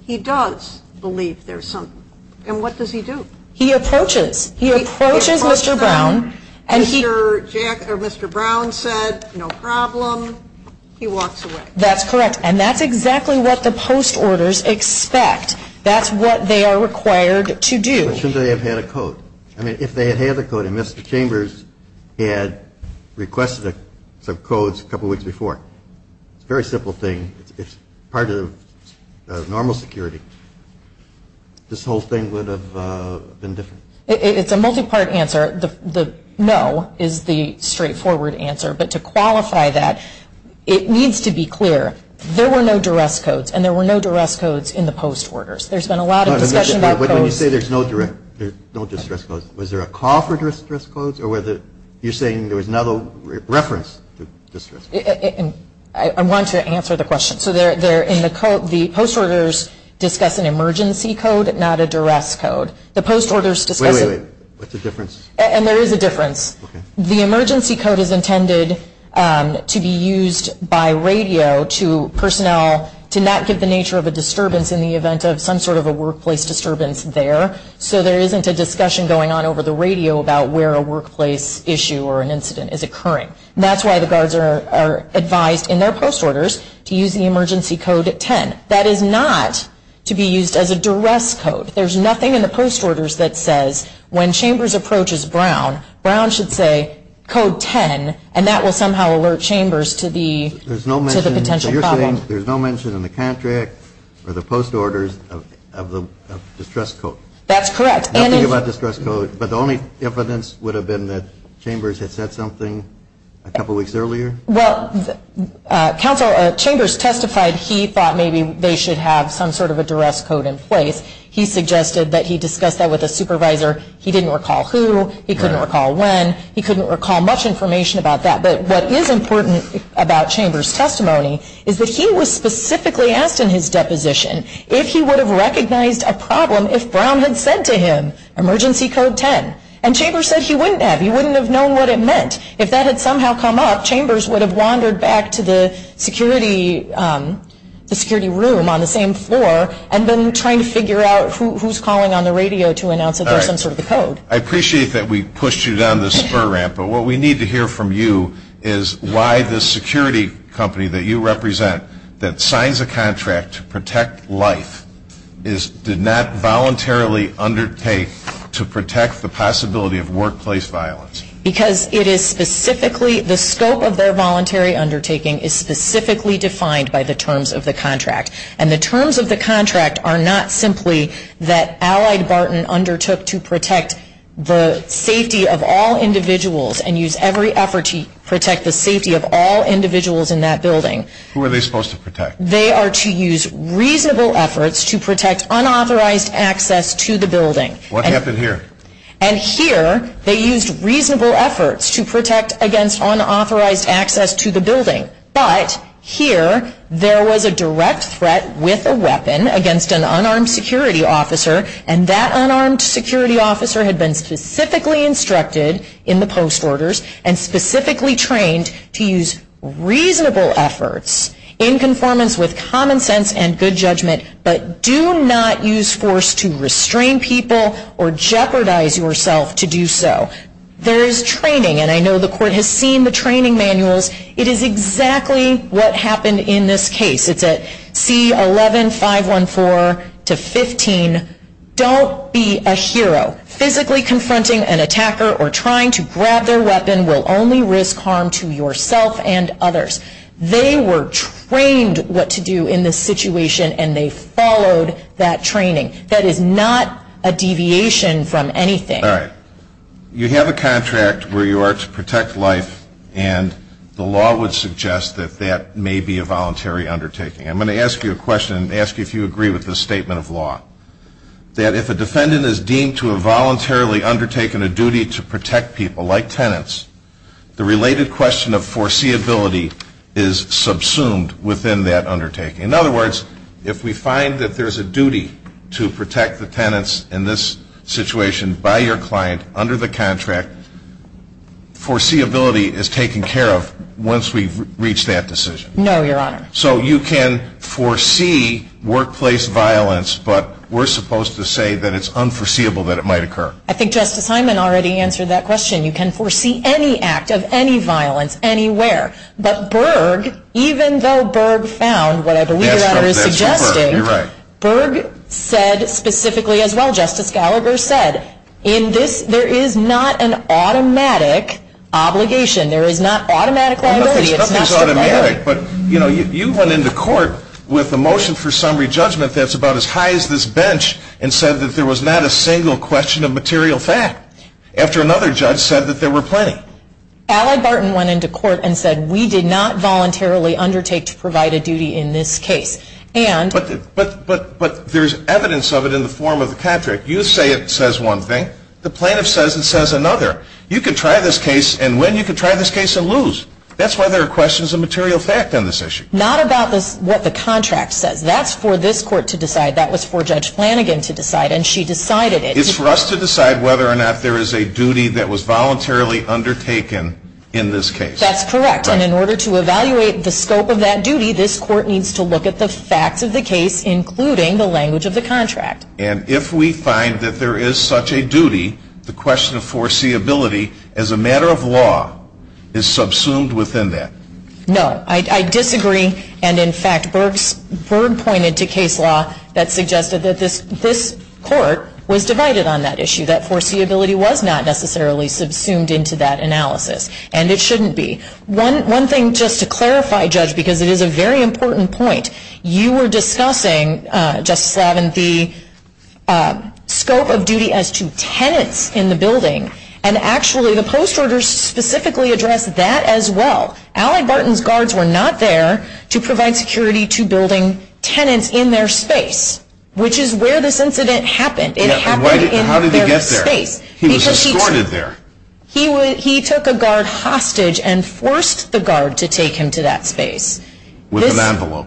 he does believe there's something, and what does he do? He approaches. He approaches Mr. Brown. Mr. Brown said, no problem. He walks away. That's correct, and that's exactly what the post orders expect. That's what they are required to do. But shouldn't they have had a code? I mean, if they had had the code and Mr. Chambers had requested some codes a couple weeks before, it's a very simple thing. It's part of normal security. This whole thing would have been different. It's a multi-part answer. The no is the straightforward answer, but to qualify that, it needs to be clear. There were no duress codes, and there were no duress codes in the post orders. There's been a lot of discussion about codes. But when you say there's no duress codes, was there a call for duress codes, or you're saying there was not a reference to duress codes? I want to answer the question. So in the code, the post orders discuss an emergency code, not a duress code. Wait, wait, wait. What's the difference? And there is a difference. The emergency code is intended to be used by radio to personnel to not give the nature of a disturbance in the event of some sort of a workplace disturbance there, so there isn't a discussion going on over the radio about where a workplace issue or an incident is occurring. That's why the guards are advised in their post orders to use the emergency code 10. That is not to be used as a duress code. There's nothing in the post orders that says when Chambers approaches Brown, Brown should say code 10, and that will somehow alert Chambers to the potential problem. So you're saying there's no mention in the contract or the post orders of the duress code? That's correct. Nothing about the duress code, but the only difference would have been that Chambers had said something a couple weeks earlier? Well, Chambers testified he thought maybe they should have some sort of a duress code in place. He suggested that he discuss that with a supervisor. He didn't recall who. He couldn't recall when. He couldn't recall much information about that. But what is important about Chambers' testimony is that he was specifically asked in his deposition if he would have recognized a problem if Brown had said to him emergency code 10. And Chambers said he wouldn't have. He wouldn't have known what it meant. If that had somehow come up, Chambers would have wandered back to the security room on the same floor and been trying to figure out who's calling on the radio to announce that there's some sort of a code. I appreciate that we pushed you down this spur ramp, but what we need to hear from you is why the security company that you represent, that signs a contract to protect life, did not voluntarily undertake to protect the possibility of workplace violence. Because the scope of their voluntary undertaking is specifically defined by the terms of the contract. And the terms of the contract are not simply that Allied Barton undertook to protect the safety of all individuals and used every effort to protect the safety of all individuals in that building. Who are they supposed to protect? They are to use reasonable efforts to protect unauthorized access to the building. What happened here? And here, they used reasonable efforts to protect against unauthorized access to the building. But here, there was a direct threat with a weapon against an unarmed security officer, and that unarmed security officer had been specifically instructed in the post orders and specifically trained to use reasonable efforts in conformance with common sense and good judgment, but do not use force to restrain people or jeopardize yourself to do so. There is training, and I know the court has seen the training manuals. It is exactly what happened in this case. It's at C-11-514-15. Don't be a hero. Physically confronting an attacker or trying to grab their weapon will only risk harm to yourself and others. They were trained what to do in this situation, and they followed that training. That is not a deviation from anything. All right. You have a contract where you are to protect life, and the law would suggest that that may be a voluntary undertaking. I'm going to ask you a question and ask you if you agree with this statement of law, that if a defendant is deemed to have voluntarily undertaken a duty to protect people like tenants, the related question of foreseeability is subsumed within that undertaking. In other words, if we find that there's a duty to protect the tenants in this situation by your client under the contract, foreseeability is taken care of once we've reached that decision. No, Your Honor. So you can foresee workplace violence, but we're supposed to say that it's unforeseeable that it might occur. I think Justice Hyman already answered that question. You can foresee any act of any violence anywhere. But Berg, even though Berg found what I believe Your Honor is suggesting, Berg said specifically as well, Justice Gallagher said, there is not an automatic obligation. There is not automatic liability. You know, you went into court with a motion for summary judgment that's about as high as this bench and said that there was not a single question of material fact after another judge said that there were plenty. Allie Barton went into court and said we did not voluntarily undertake to provide a duty in this case. But there's evidence of it in the form of Patrick. You say it says one thing. The plaintiff says it says another. You could try this case and win. You could try this case and lose. That's why there are questions of material fact on this issue. Not about what the contract says. That's for this court to decide. That was for Judge Flanagan to decide, and she decided it. It's for us to decide whether or not there is a duty that was voluntarily undertaken in this case. That's correct. And in order to evaluate the scope of that duty, this court needs to look at the facts of the case, including the language of the contract. And if we find that there is such a duty, the question of foreseeability as a matter of law is subsumed within that. No, I disagree. And, in fact, Berg pointed to case law that suggested that this court was divided on that issue, that foreseeability was not necessarily subsumed into that analysis. And it shouldn't be. One thing just to clarify, Judge, because it is a very important point. You were discussing, Justice Lavin, the scope of duty as to tenants in the building. And, actually, the post order specifically addressed that as well. Allie Barton's guards were not there to provide security to building tenants in their space, which is where this incident happened. How did he get there? He was escorted there. He took a guard hostage and forced the guard to take him to that space. With an envelope.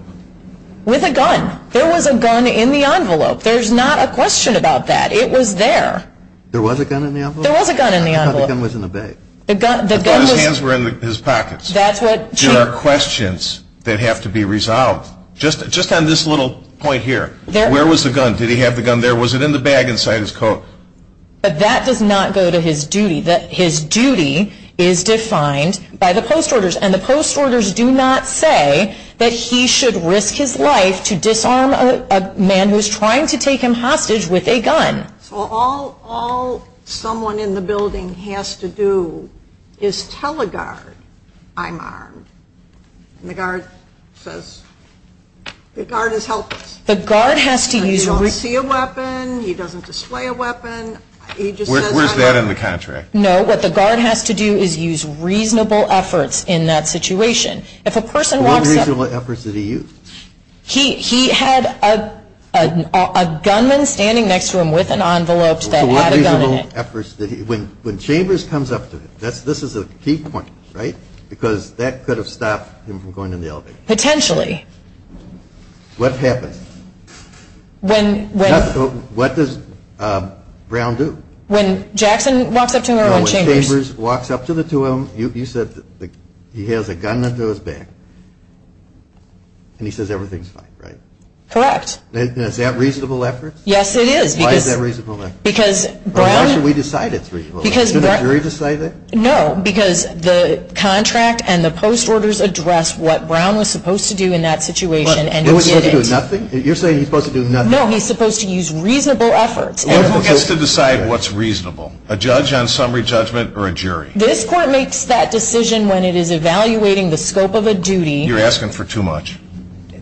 With a gun. There was a gun in the envelope. There's not a question about that. It was there. There was a gun in the envelope? There was a gun in the envelope. I thought the gun was in the bag. His hands were in his pockets. There are questions that have to be resolved. Just on this little point here, where was the gun? Did he have the gun there? Was it in the bag inside his coat? That does not go to his duty. His duty is defined by the post orders. And the post orders do not say that he should risk his life to disarm a man who's trying to take him hostage with a gun. All someone in the building has to do is tell a guard, I'm armed. And the guard says, the guard is helpless. The guard has to use a reasonable effort. He doesn't see a weapon. He doesn't display a weapon. Where's that in the contract? No, what the guard has to do is use reasonable efforts in that situation. What reasonable efforts did he use? He had a gunman standing next to him with an envelope that had a gun in it. When Chambers comes up to him, this is a key point, right? Because that could have stopped him from going in the elevator. Potentially. What happens? What does Brown do? When Jackson walks up to him around Chambers. When Chambers walks up to the two of them, you said he has a gun under his back. And he says everything's fine, right? Correct. Is that reasonable effort? Yes, it is. Why is that reasonable effort? Because Brown. Why should we decide it for you? Should the jury decide it? No, because the contract and the post orders address what Brown was supposed to do in that situation. He was supposed to do nothing? You're saying he's supposed to do nothing? No, he's supposed to use reasonable efforts. He's supposed to decide what's reasonable. A judge on summary judgment or a jury? This court makes that decision when it is evaluating the scope of a duty. You're asking for too much.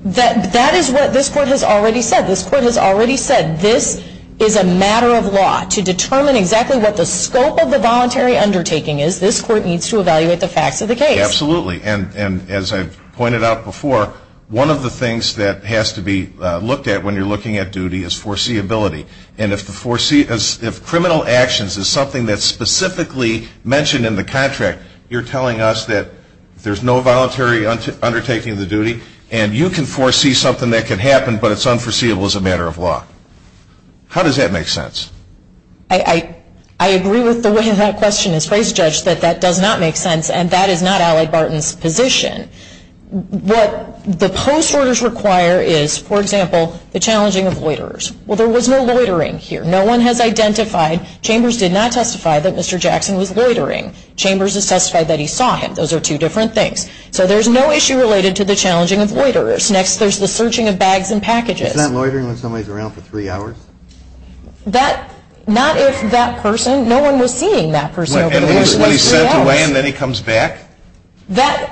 That is what this court has already said. This court has already said this is a matter of law. To determine exactly what the scope of the voluntary undertaking is, this court needs to evaluate the facts of the case. Absolutely. And as I pointed out before, one of the things that has to be looked at when you're looking at duty is foreseeability. And if criminal actions is something that's specifically mentioned in the contract, you're telling us that there's no voluntary undertaking of the duty and you can foresee something that could happen but it's unforeseeable as a matter of law. How does that make sense? I agree with the way that question is phrased, Judge, that that does not make sense and that is not Allie Barton's position. What the post orders require is, for example, the challenging of waiters. Well, there was no loitering here. No one has identified. Chambers did not testify that Mr. Jackson was loitering. Chambers has testified that he saw him. Those are two different things. So there's no issue related to the challenging of loiters. Next, there's the searching of bags and packages. Isn't that loitering when somebody's around for three hours? Not if that person, no one was seeing that person for three hours. And when he steps away and then he comes back? That's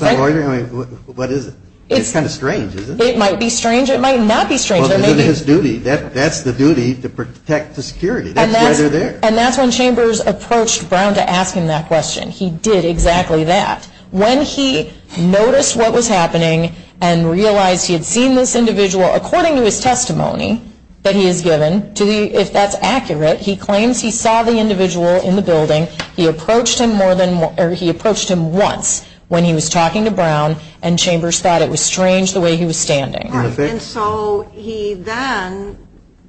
not loitering? What is it? It's kind of strange, isn't it? It might be strange. It might not be strange. It's his duty. That's the duty to protect the security. That's why they're there. And that's when Chambers approached Brown to ask him that question. He did exactly that. When he noticed what was happening and realized he had seen this individual, according to his testimony that he had given, if that's accurate, he claims he saw the individual in the building. He approached him once when he was talking to Brown, and Chambers thought it was strange the way he was standing. And so he then,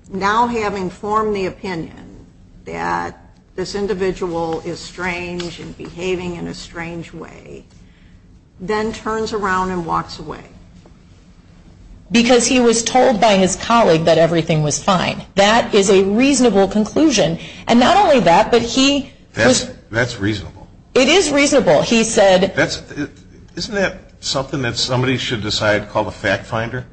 now having formed the opinion that this individual is strange and behaving in a strange way, then turns around and walks away. Because he was told by his colleague that everything was fine. That is a reasonable conclusion. And not only that, but he was... That's reasonable. It is reasonable. Isn't that something that somebody should decide to call a fact finder?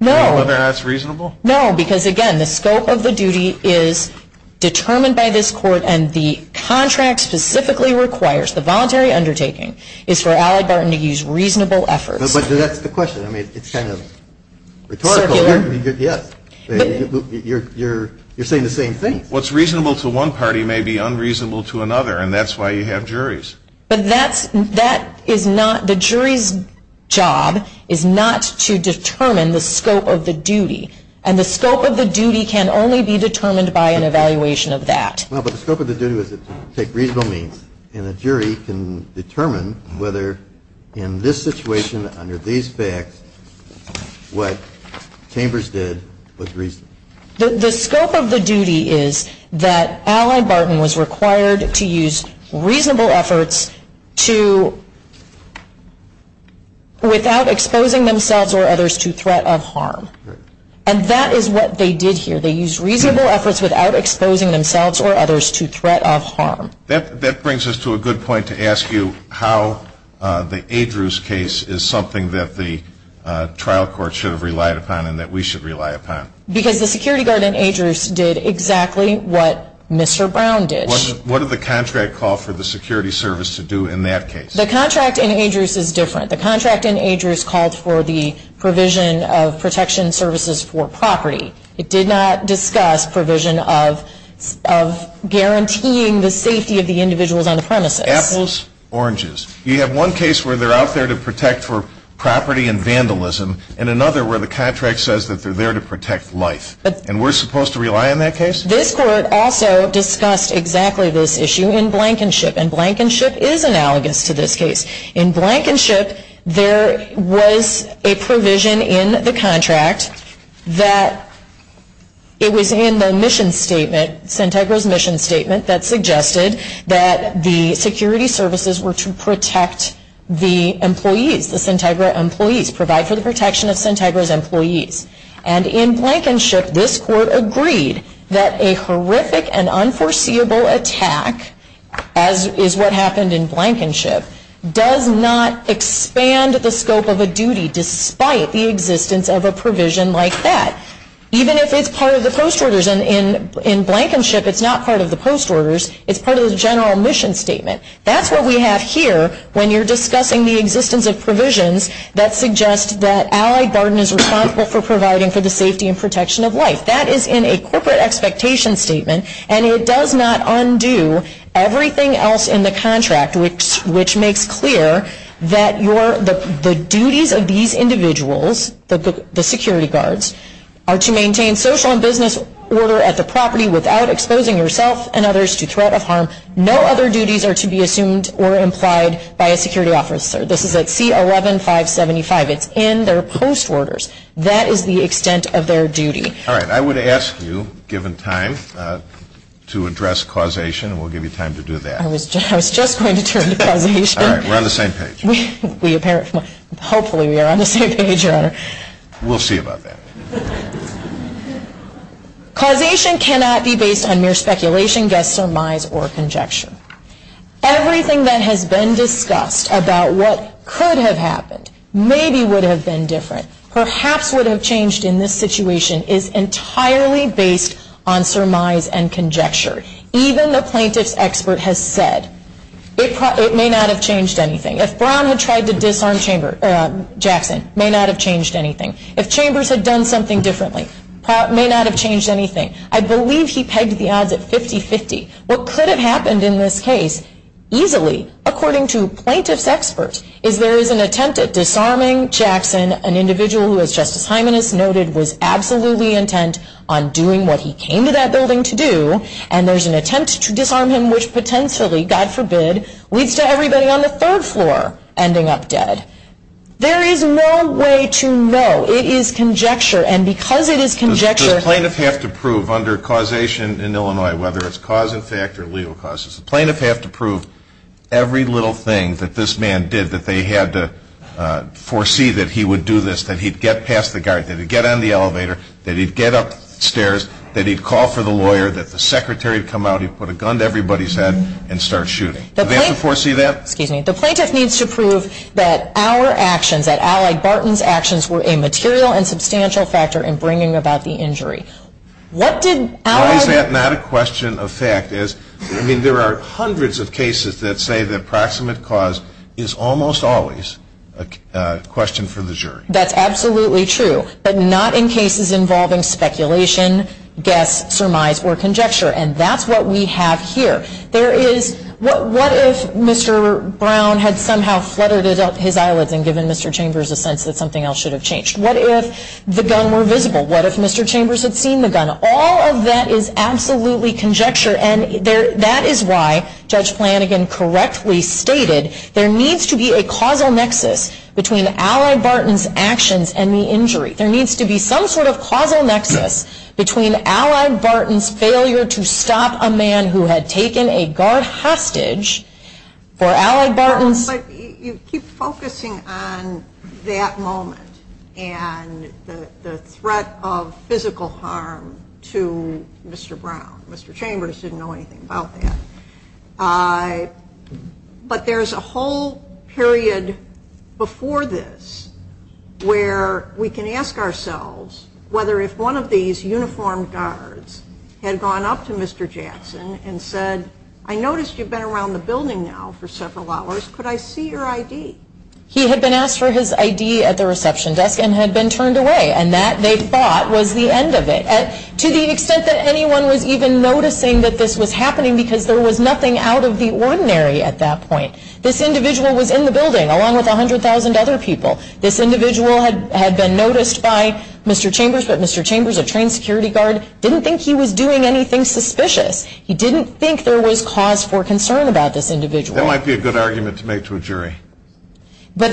No. Do you think that's reasonable? No, because, again, the scope of the duty is determined by this court, and the contract specifically requires, the voluntary undertaking, is for Allie Barton to use reasonable efforts. But that's the question. I mean, it's kind of rhetorical. You're saying the same thing. What's reasonable to one party may be unreasonable to another, and that's why you have juries. But that is not the jury's job, is not to determine the scope of the duty. And the scope of the duty can only be determined by an evaluation of that. No, but the scope of the duty is to take reasonable means. And the jury can determine whether, in this situation, under these facts, what Chambers did was reasonable. The scope of the duty is that Allie Barton was required to use reasonable efforts to, without exposing themselves or others to threat of harm. And that is what they did here. They used reasonable efforts without exposing themselves or others to threat of harm. That brings us to a good point to ask you how the ADRU's case is something that the trial court should have relied upon and that we should rely upon. Because the security guard in ADRU's did exactly what Mr. Brown did. What did the contract call for the security service to do in that case? The contract in ADRU's is different. The contract in ADRU's called for the provision of protection services for property. It did not discuss provision of guaranteeing the safety of the individuals on the premises. Apples, oranges. You have one case where they're out there to protect for property and vandalism, and another where the contract says that they're there to protect life. And we're supposed to rely on that case? This court also discussed exactly this issue in Blankenship. And Blankenship is analogous to this case. In Blankenship, there was a provision in the contract that it was in the mission statement, Sintegra's mission statement, that suggested that the security services were to protect the employees. Provide for the protection of Sintegra's employees. And in Blankenship, this court agreed that a horrific and unforeseeable attack, as is what happened in Blankenship, does not expand the scope of a duty despite the existence of a provision like that. Even if it's part of the post orders. And in Blankenship, it's not part of the post orders. It's part of the general mission statement. That's what we have here when you're discussing the existence of provisions that suggest that Allied Garden is responsible for providing for the safety and protection of life. That is in a corporate expectation statement, and it does not undo everything else in the contract, which makes clear that the duties of these individuals, the security guards, are to maintain social and business order at the property without exposing yourselves and others to threat of harm. No other duties are to be assumed or implied by a security officer. This is at C-11575. It's in their post orders. That is the extent of their duty. All right, I would ask you, given time, to address causation, and we'll give you time to do that. I was just going to turn to causation. All right, we're on the same page. Hopefully we are on the same page. We'll see about that. Causation cannot be based on mere speculation, just surmise, or conjecture. Everything that has been discussed about what could have happened, maybe would have been different, perhaps would have changed in this situation, is entirely based on surmise and conjecture. Even the plaintiff's expert has said it may not have changed anything. If Brown had tried to disarm Jackson, it may not have changed anything. If Chambers had done something differently, it may not have changed anything. I believe he pegged the odds at 50-50. What could have happened in this case, easily, according to plaintiff's experts, is there is an attempt at disarming Jackson, an individual who, as Justice Hyman has noted, was absolutely intent on doing what he came to that building to do, and there's an attempt to disarm him which potentially, God forbid, leads to everybody on the third floor ending up dead. There is no way to know. It is conjecture, and because it is conjecture... Does the plaintiff have to prove under causation in Illinois, whether it's cause and effect or legal causes, does the plaintiff have to prove every little thing that this man did, that they had to foresee that he would do this, that he'd get past the guard, that he'd get on the elevator, that he'd get upstairs, that he'd call for the lawyer, that the secretary would come out, he'd put a gun to everybody's head, and start shooting. Does the plaintiff have to foresee that? The plaintiff needs to prove that our actions, that Alec Barton's actions, were a material and substantial factor in bringing about the injury. Why is that not a question of fact? There are hundreds of cases that say that proximate cause is almost always a question for the jury. That's absolutely true, but not in cases involving speculation, guess, surmise, or conjecture, and that's what we have here. What if Mr. Brown had somehow fluttered his eyelids and given Mr. Chambers a sense that something else should have changed? What if the gun were visible? What if Mr. Chambers had seen the gun? All of that is absolutely conjecture, and that is why Judge Flanagan correctly stated there needs to be a causal nexus between Alec Barton's actions and the injury. There needs to be some sort of causal nexus between Alec Barton's failure to stop a man who had taken a guard hostage for Alec Barton's... But you keep focusing on that moment and the threat of physical harm to Mr. Brown. Mr. Chambers didn't know anything about that. But there's a whole period before this where we can ask ourselves whether if one of these uniformed guards had gone up to Mr. Jackson and said, I noticed you've been around the building now for several hours. Could I see your ID? He had been asked for his ID at the reception desk and had been turned away, and that, they thought, was the end of it. To the extent that anyone was even noticing that this was happening because there was nothing out of the ordinary at that point. This individual was in the building along with 100,000 other people. This individual had been noticed by Mr. Chambers, but Mr. Chambers, a trained security guard, didn't think he was doing anything suspicious. He didn't think there was cause for concern about this individual. That might be a good argument to make to a jury. But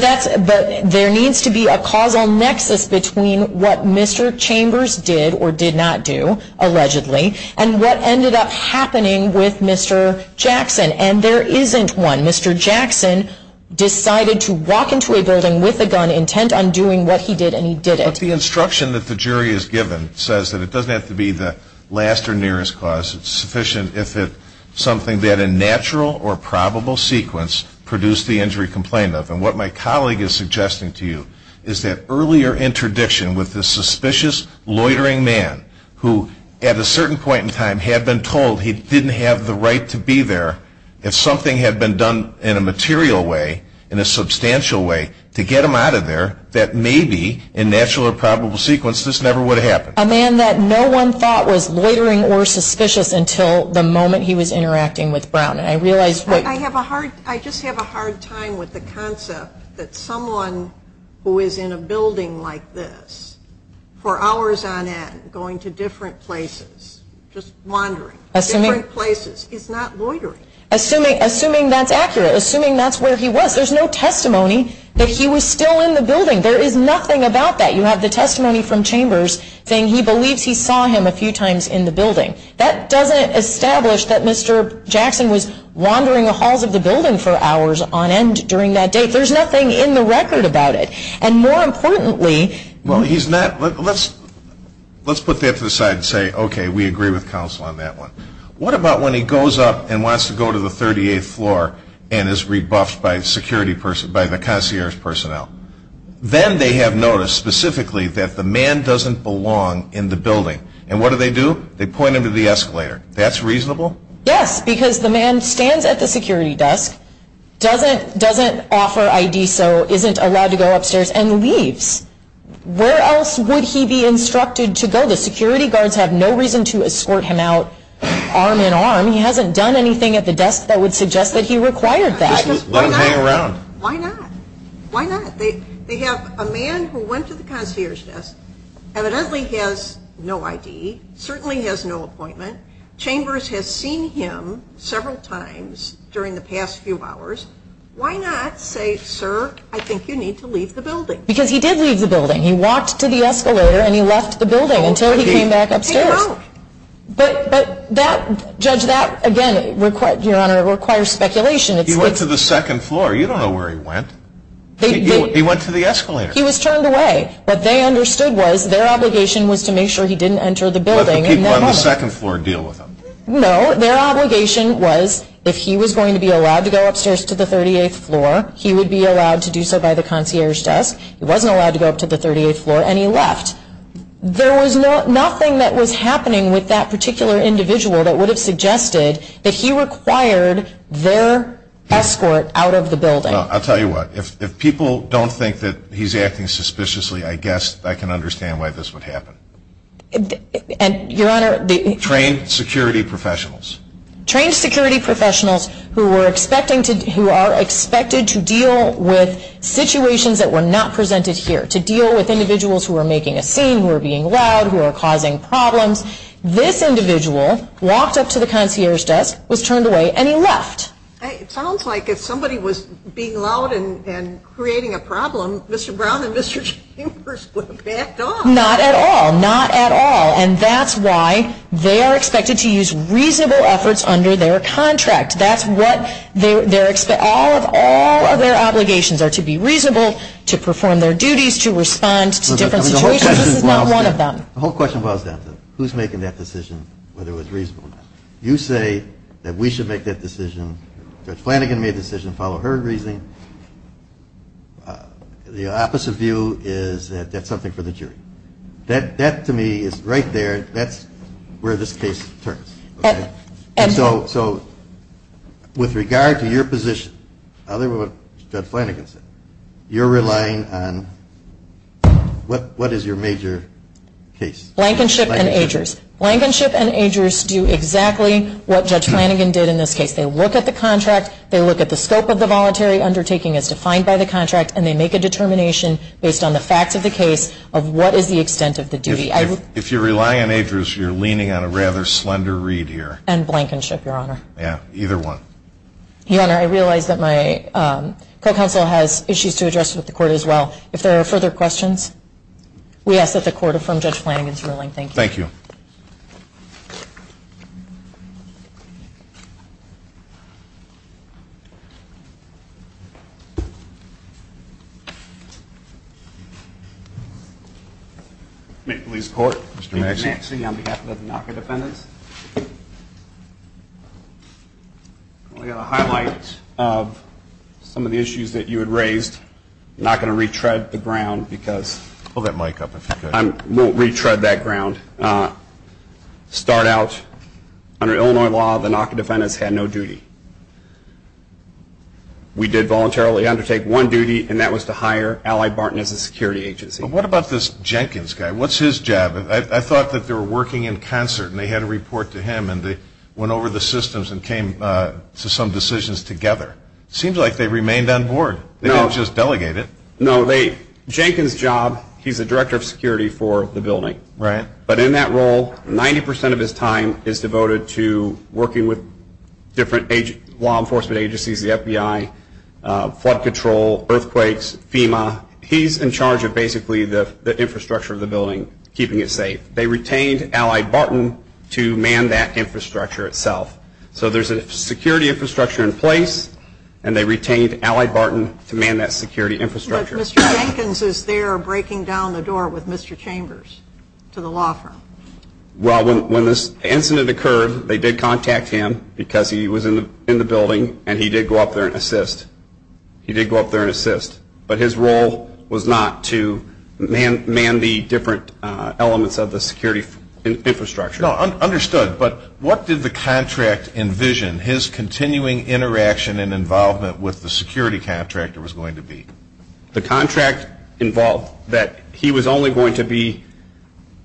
there needs to be a causal nexus between what Mr. Chambers did or did not do, allegedly, and what ended up happening with Mr. Jackson, and there isn't one. Mr. Jackson decided to walk into a building with a gun, intent on doing what he did, and he did it. The instruction that the jury has given says that it doesn't have to be the last or nearest cause. It's sufficient if it's something that, in natural or probable sequence, produced the injury complaint. And what my colleague is suggesting to you is that earlier interdiction with this suspicious, loitering man who, at a certain point in time, had been told he didn't have the right to be there, if something had been done in a material way, in a substantial way, to get him out of there, that maybe, in natural or probable sequence, this never would have happened. A man that no one thought was loitering or suspicious until the moment he was interacting with Brown. I just have a hard time with the concept that someone who is in a building like this, for hours on end, going to different places, just wandering, different places, is not loitering. Assuming that's accurate, assuming that's where he was, there's no testimony that he was still in the building. There is nothing about that. You have the testimony from Chambers saying he believes he saw him a few times in the building. That doesn't establish that Mr. Jackson was wandering the halls of the building for hours on end during that day. There's nothing in the record about it. Let's put that to the side and say, okay, we agree with counsel on that one. What about when he goes up and wants to go to the 38th floor and is rebuffed by the concierge personnel? Then they have noticed, specifically, that the man doesn't belong in the building. And what do they do? They point him to the escalator. That's reasonable? Yes, because the man stands at the security desk, doesn't offer ID, so isn't allowed to go upstairs, and leaves. Where else would he be instructed to go? The security guards have no reason to escort him out arm in arm. He hasn't done anything at the desk that would suggest that he required that. Let him hang around. Why not? Why not? They have a man who went to the concierge desk, evidently has no ID, certainly has no appointment. Chambers has seen him several times during the past few hours. Why not say, sir, I think you need to leave the building? Because he did leave the building. He walked to the escalator and he left the building until he came back upstairs. But that, Judge, that again requires speculation. He went to the second floor. You don't know where he went. He went to the escalator. He was turned away. What they understood was their obligation was to make sure he didn't enter the building. Let the people on the second floor deal with him. No, their obligation was if he was going to be allowed to go upstairs to the 38th floor, he would be allowed to do so by the concierge desk. He wasn't allowed to go up to the 38th floor, and he left. There was nothing that was happening with that particular individual that would have suggested that he required their escort out of the building. I'll tell you what, if people don't think that he's acting suspiciously, I guess I can understand why this would happen. Your Honor... Trained security professionals. Trained security professionals who are expected to deal with situations that were not presented here, to deal with individuals who were making a scene, who were being loud, who were causing problems. This individual walked up to the concierge desk, was turned away, and he left. It sounds like if somebody was being loud and creating a problem, Mr. Brown and Mr. Chambers would have backed off. Not at all. Not at all. And that's why they are expected to use reasonable efforts under their contract. That's what their... All of their obligations are to be reasonable, to perform their duties, to respond to different situations. This is not one of them. The whole question boils down to who's making that decision, whether it's reasonable or not. You say that we should make that decision. Judge Flanagan made a decision to follow her reasoning. The opposite view is that that's something for the jury. That, to me, is right there. That's where this case turns. So, with regard to your position, other than what Judge Flanagan said, you're relying on... What is your major case? Blankenship and age risk. Blankenship and age risk do exactly what Judge Flanagan did in this case. They look at the contract, they look at the scope of the voluntary undertaking as defined by the contract, and they make a determination based on the fact of the case of what is the extent of the duty. If you're relying on age risk, you're leaning on a rather slender read here. And blankenship, Your Honor. Yeah, either one. Your Honor, I realize that my court counsel has issues to address with the court as well. If there are further questions, we ask that the court affirm Judge Flanagan's ruling. Thank you. Thank you. Thank you. State Police Court. Mr. Maxey. Mr. Maxey on behalf of the NACA defendants. I've got a highlight of some of the issues that you had raised. I'm not going to retread the ground because... Hold that mic up. I won't retread that ground. To start out, under Illinois law, the NACA defendants had no duty. We did voluntarily undertake one duty, and that was to hire Allied Barton as a security agency. But what about this Jenkins guy? What's his job? I thought that they were working in concert and they had a report to him, and they went over the systems and came to some decisions together. It seems like they remained on board. They didn't just delegate it. No, they... Jenkins' job, he's the director of security for the building. Right. But in that role, 90% of his time is devoted to working with different law enforcement agencies, the FBI, flood control, earthquakes, FEMA. He's in charge of basically the infrastructure of the building, keeping it safe. They retained Allied Barton to man that infrastructure itself. So there's a security infrastructure in place, and they retained Allied Barton to man that security infrastructure. But Mr. Jenkins is there breaking down the door with Mr. Chambers to the law firm. Well, when this incident occurred, they did contact him because he was in the building, and he did go up there and assist. He did go up there and assist. But his role was not to man the different elements of the security infrastructure. No, understood. But what did the contract envision his continuing interaction and involvement with the security contractor was going to be? The contract involved that he was only going to be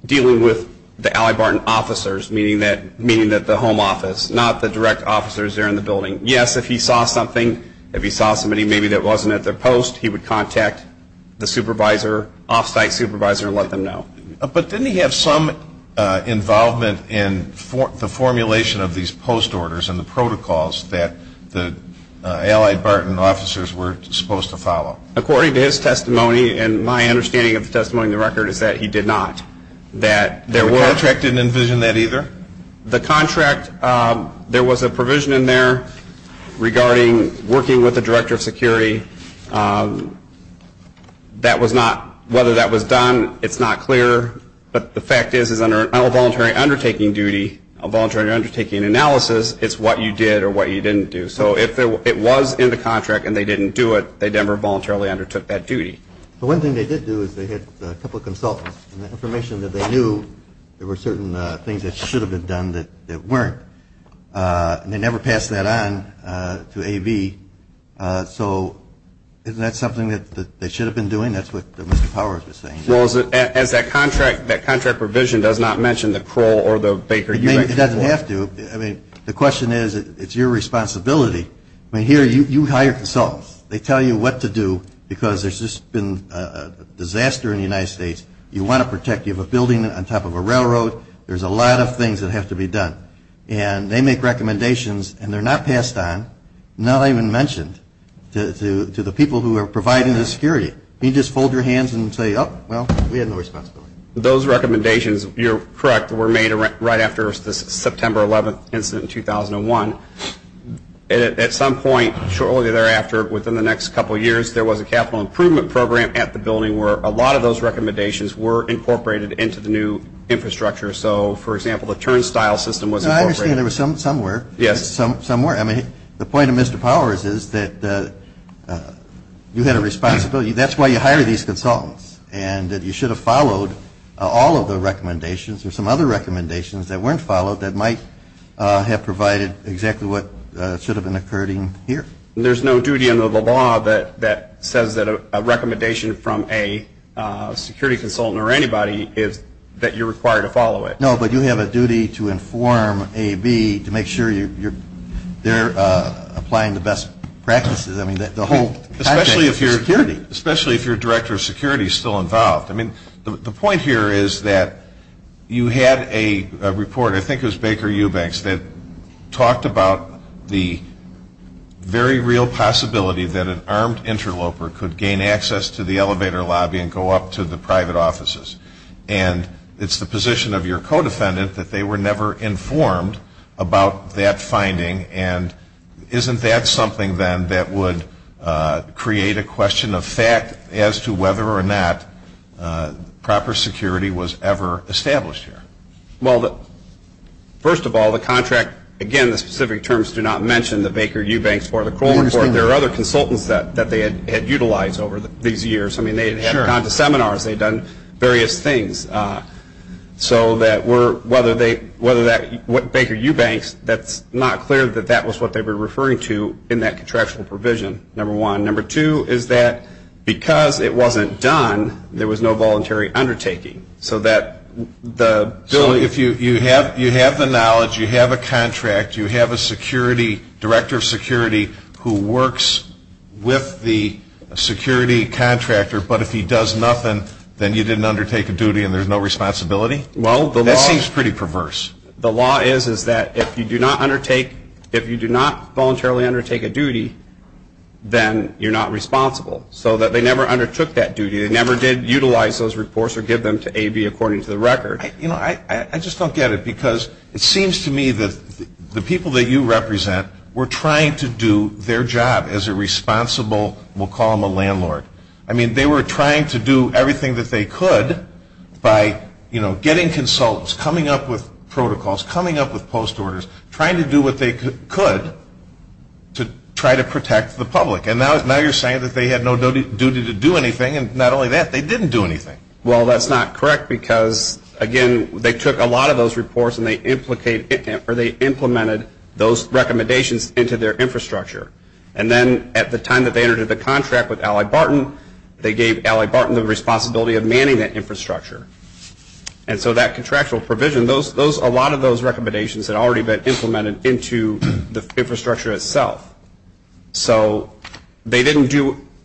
dealing with the Allied Barton officers, meaning that the home office, not the direct officers there in the building. Yes, if he saw something, if he saw somebody maybe that wasn't at their post, he would contact the supervisor, off-site supervisor, and let them know. But didn't he have some involvement in the formulation of these post orders and the protocols that the Allied Barton officers were supposed to follow? According to his testimony, and my understanding of the testimony in the record, is that he did not. The contract didn't envision that either? The contract, there was a provision in there regarding working with the director of security. Whether that was done, it's not clear. But the fact is, under a voluntary undertaking duty, a voluntary undertaking analysis, it's what you did or what you didn't do. So if it was in the contract and they didn't do it, they never voluntarily undertook that duty. But one thing they did do is they had a couple of consultants, and the information that they knew there were certain things that should have been done that weren't. They never passed that on to AV. So isn't that something that they should have been doing? That's what Mr. Powers is saying. Well, that contract provision does not mention the coal or the bakery. It doesn't have to. I mean, the question is, it's your responsibility. I mean, here you hire consultants. They tell you what to do because there's just been a disaster in the United States. You want to protect. You have a building on top of a railroad. There's a lot of things that have to be done. And they make recommendations, and they're not passed on, not even mentioned, to the people who are providing the security. You just hold your hands and say, oh, well, we had no responsibility. Those recommendations, you're correct, were made right after the September 11th incident in 2001. At some point shortly thereafter, within the next couple of years, there was a capital improvement program at the building where a lot of those recommendations were incorporated into the new infrastructure. So, for example, the turnstile system was incorporated. I understand there was some somewhere. Yes. You had a responsibility. That's why you hired these consultants, and that you should have followed all of the recommendations or some other recommendations that weren't followed that might have provided exactly what should have been occurring here. There's no duty under the law that says that a recommendation from a security consultant or anybody is that you're required to follow it. No, but you have a duty to inform A and B to make sure they're applying the best practices. Especially if you're a director of security still involved. The point here is that you had a reporter, I think it was Baker Eubanks, that talked about the very real possibility that an armed interloper could gain access to the elevator lobby and go up to the private offices. And it's the position of your co-defendant that they were never informed about that finding, and isn't that something then that would create a question of fact as to whether or not proper security was ever established here? Well, first of all, the contract, again, the specific terms do not mention the Baker Eubanks or the Kroll report. There are other consultants that they had utilized over these years. I mean, they had gone to seminars. They had done various things. So whether that's Baker Eubanks, that's not clear that that was what they were referring to in that contractual provision, number one. Number two is that because it wasn't done, there was no voluntary undertaking. So if you have the knowledge, you have a contract, you have a director of security who works with the security contractor, but if he does nothing, then you didn't undertake a duty and there's no responsibility? Well, that seems pretty perverse. The law is that if you do not voluntarily undertake a duty, then you're not responsible. So that they never undertook that duty. They never did utilize those reports or give them to AB according to the record. I just don't get it because it seems to me that the people that you represent were trying to do their job as a responsible, we'll call them a landlord. I mean, they were trying to do everything that they could by getting consultants, coming up with protocols, coming up with post orders, trying to do what they could to try to protect the public. And now you're saying that they had no duty to do anything, and not only that, they didn't do anything. Well, that's not correct because, again, they took a lot of those reports and they implemented those recommendations into their infrastructure. And then at the time that they entered the contract with Ally Barton, they gave Ally Barton the responsibility of manning that infrastructure. And so that contractual provision, a lot of those recommendations had already been implemented into the infrastructure itself. So they didn't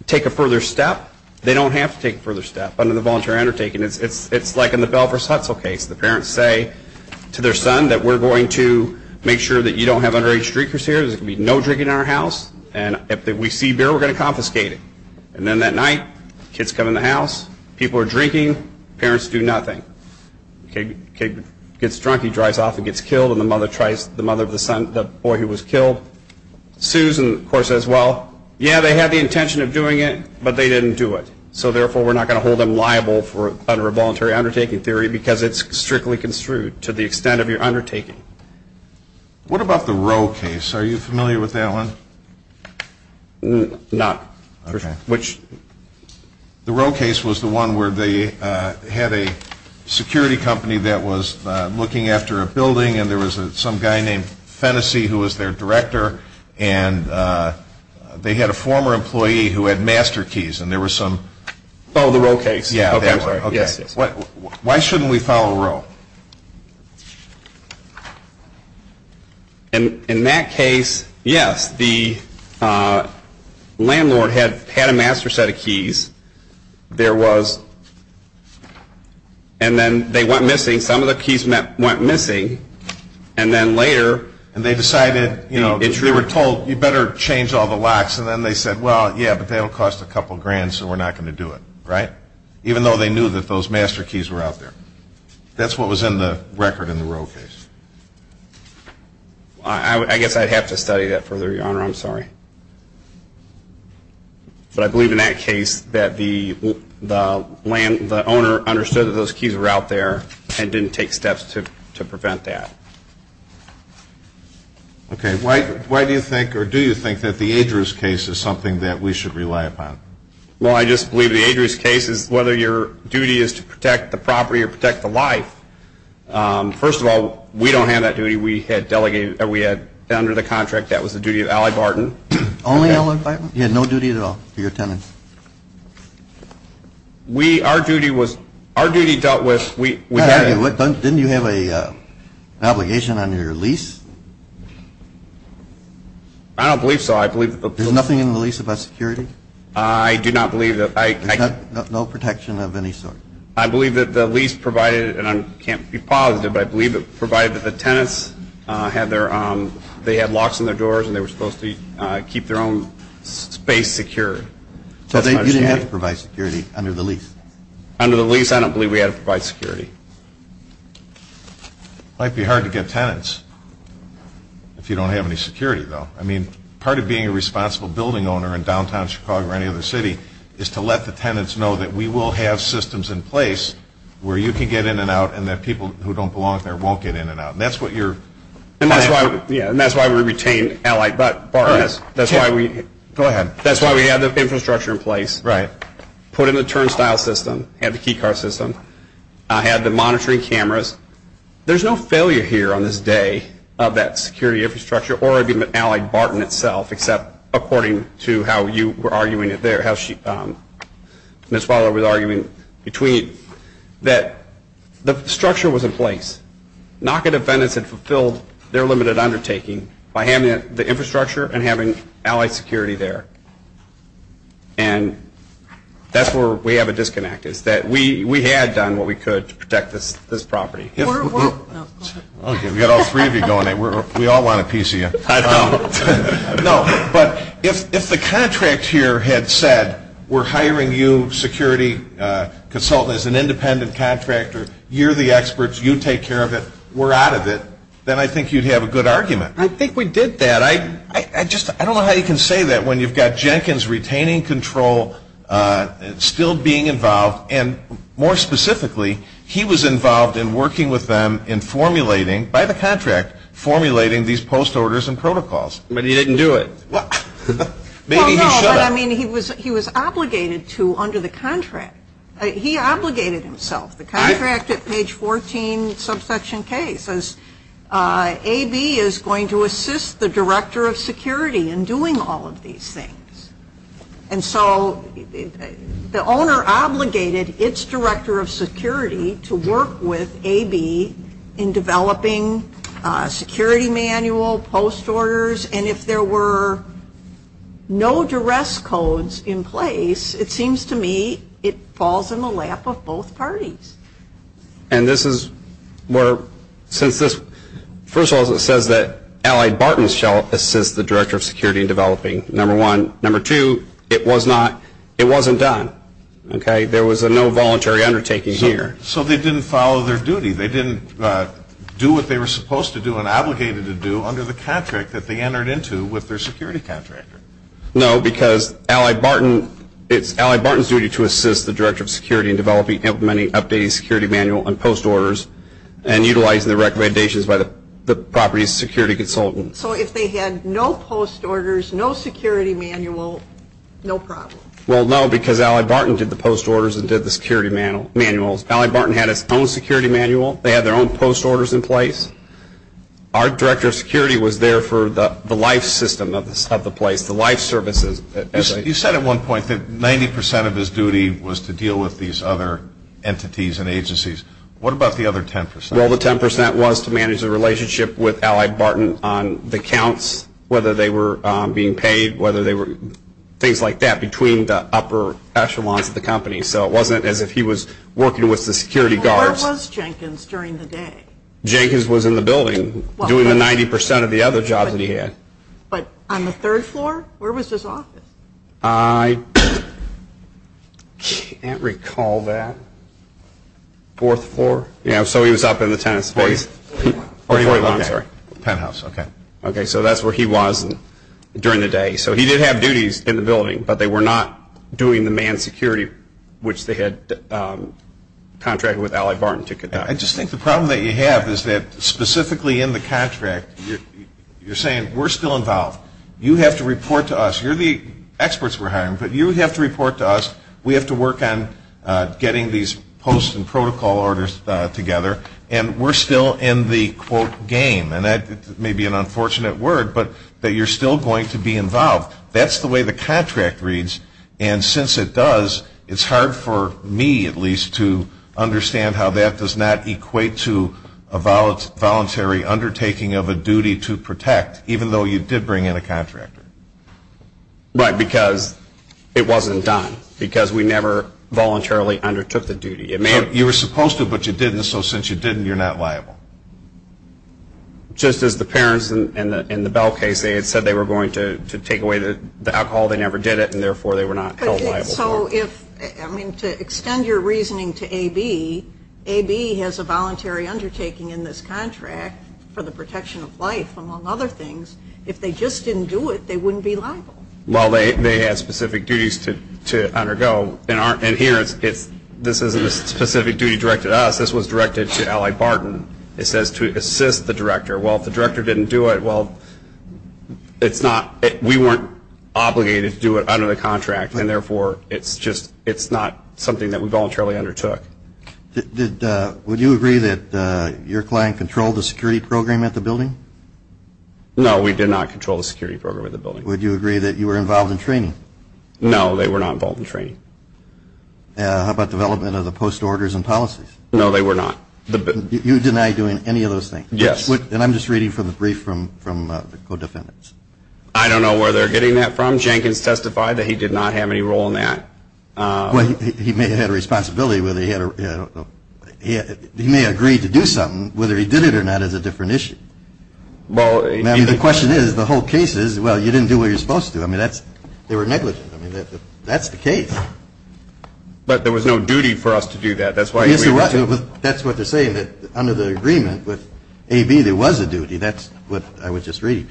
take a further step. They don't have to take a further step under the voluntary undertaking. It's like in the Bell Versace case. The parents say to their son that we're going to make sure that you don't have underage drinkers here, because there's going to be no drinking in our house, and if we see beer, we're going to confiscate it. And then that night, kids come in the house, people are drinking, parents do nothing. Kid gets drunk, he drives off and gets killed, and the mother of the boy who was killed sues and of course says, well, yeah, they had the intention of doing it, but they didn't do it. So therefore, we're not going to hold them liable under a voluntary undertaking theory because it's strictly construed to the extent of your undertaking. What about the Roe case? Are you familiar with that one? No. The Roe case was the one where they had a security company that was looking after a building and there was some guy named Fennessy who was their director, and they had a former employee who had master keys, and there were some... Oh, the Roe case. Why shouldn't we follow Roe? In that case, yes, the landlord had a master set of keys. There was... and then they went missing. Some of the keys went missing, and then later... And they decided, you know, they were told, you better change all the locks, and then they said, well, yeah, but that'll cost a couple grand, so we're not going to do it, right? Even though they knew that those master keys were out there. That's what was in the record in the Roe case. I guess I'd have to study that further, Your Honor. I'm sorry. But I believe in that case that the owner understood that those keys were out there and didn't take steps to prevent that. Okay. Why do you think, or do you think, that the Adrieus case is something that we should rely upon? Well, I just believe the Adrieus case is whether your duty is to protect the property or protect the life. First of all, we don't have that duty. We had delegated... we had, under the contract, that was the duty of Allie Barton. Only Allie Barton? You had no duty at all to your tenants? We... our duty was... our duty dealt with... Didn't you have an obligation under your lease? I don't believe so. I believe... There's nothing in the lease about security? I do not believe that... No protection of any sort? I believe that the lease provided, and I can't be positive, but I believe it provided that the tenants had their... they had locks on their doors and they were supposed to keep their own space secure. So you didn't have to provide security under the lease? Under the lease, I don't believe we had to provide security. It might be hard to get tenants if you don't have any security, though. I mean, part of being a responsible building owner in downtown Chicago or any other city is to let the tenants know that we will have systems in place where you can get in and out and that people who don't belong there won't get in and out. And that's what you're... And that's why we retained Allie Barton. That's why we... Go ahead. That's why we have this infrastructure in place. Right. Put in the turnstile system, had the keycard system, had the monitoring cameras. There's no failure here on this day of that security infrastructure or of Allie Barton itself, except according to how you were arguing it there, how she... Ms. Fowler was arguing between... that the structure was in place. Knock-in defendants had fulfilled their limited undertaking by having the infrastructure and having Allie security there. And that's where we have a disconnect, is that we had done what we could to protect this property. We're... Okay, we've got all three of you going at it. We all want a piece of you. I know. No, but if the contract here had said, we're hiring you security consultant as an independent contractor, you're the experts, you take care of it, we're out of it, then I think you'd have a good argument. I think we did that. I don't know how you can say that when you've got Jenkins retaining control, still being involved, and more specifically, he was involved in working with them in formulating, by the contract, formulating these post-orders and protocols. But he didn't do it. Maybe he should have. He was obligated to under the contract. He obligated himself. The contract at page 14, subsection K, says, AB is going to assist the director of security in doing all of these things. And so the owner obligated its director of security to work with AB in developing security manual, post-orders, and if there were no duress codes in place, it seems to me it falls in the lap of both parties. And this is where, first of all, it says that Allied Barton shall assist the director of security in developing, number one. Number two, it wasn't done. There was no voluntary undertaking here. So they didn't follow their duty. They didn't do what they were supposed to do and obligated to do under the contract that they entered into with their security contractor. No, because Allied Barton, it's Allied Barton's duty to assist the director of security in developing, implementing, updating security manual and post-orders and utilizing the recommendations by the property's security consultant. So if they had no post-orders, no security manual, no problem. Well, no, because Allied Barton did the post-orders and did the security manuals. Allied Barton had its own security manual. They had their own post-orders in place. Our director of security was there for the life system of the place, the life services. You said at one point that 90% of his duty was to deal with these other entities and agencies. What about the other 10%? Well, the 10% was to manage the relationship with Allied Barton on the accounts, whether they were being paid, things like that, between the upper echelons of the company. So it wasn't as if he was working with the security guards. Where was Jenkins during the day? Jenkins was in the building doing the 90% of the other jobs that he had. Okay. But on the third floor, where was his office? I can't recall that. Fourth floor? Yeah. So he was up in the tennis court. Oh, he wasn't there. The penthouse. Okay. Okay. So that's where he was during the day. So he did have duties in the building, but they were not doing the manned security, which they had contracted with Allied Barton to conduct. I just think the problem that you have is that specifically in the contract, you're saying we're still involved. You have to report to us. You're the experts we're hiring, but you have to report to us. We have to work on getting these posts and protocol orders together, and we're still in the, quote, game. And that may be an unfortunate word, but that you're still going to be involved. That's the way the contract reads, and since it does, it's hard for me, at least, to understand how that does not equate to a voluntary undertaking of a duty to protect, even though you did bring in a contractor. Right, because it wasn't done, because we never voluntarily undertook the duty. You were supposed to, but you didn't, so since you didn't, you're not liable. Just as the parents in the Bell case, they had said they were going to take away the alcohol. They never did it, and therefore they were not held liable. So if, I mean, to extend your reasoning to AB, AB has a voluntary undertaking in this contract for the protection of life, among other things. If they just didn't do it, they wouldn't be liable. Well, they have specific duties to undergo, and here, this isn't a specific duty directed to us. This was directed to Ally Barton. It says to assist the director. Well, if the director didn't do it, well, we weren't obligated to do it under the contract, and therefore it's not something that we voluntarily undertook. Would you agree that your client controlled the security program at the building? No, we did not control the security program at the building. Would you agree that you were involved in training? No, they were not involved in training. How about development of the post orders and policies? No, they were not. You deny doing any of those things? Yes. And I'm just reading from a brief from the co-defendants. I don't know where they're getting that from. Jenkins testified that he did not have any role in that. He may have had a responsibility, but he may have agreed to do something. Whether he did it or not is a different issue. The question is, the whole case is, well, you didn't do what you're supposed to. I mean, they were negligent. That's the case. But there was no duty for us to do that. That's what they're saying, that under the agreement with AV, there was a duty. That's what I was just reading,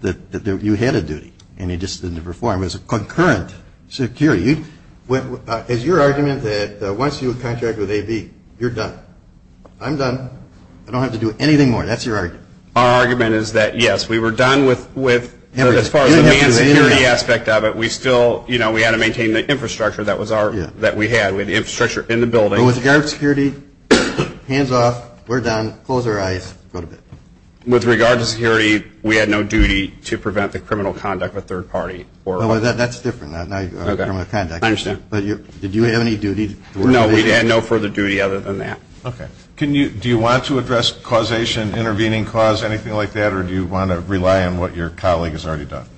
that you had a duty, and you just didn't perform. It was a concurrent security. Is your argument that once you contract with AV, you're done? I'm done. I don't have to do anything more. That's your argument. Our argument is that, yes, we were done with as far as the security aspect of it. We still, you know, we had to maintain the infrastructure that we had, the infrastructure in the building. With regard to security, hands off. We're done. Close our eyes for a little bit. With regard to security, we had no duty to prevent the criminal conduct of a third party. That's different. I understand. Did you have any duty? No, we had no further duty other than that. Okay. Do you want to address causation, intervening cause, anything like that, or do you want to rely on what your colleague has already done?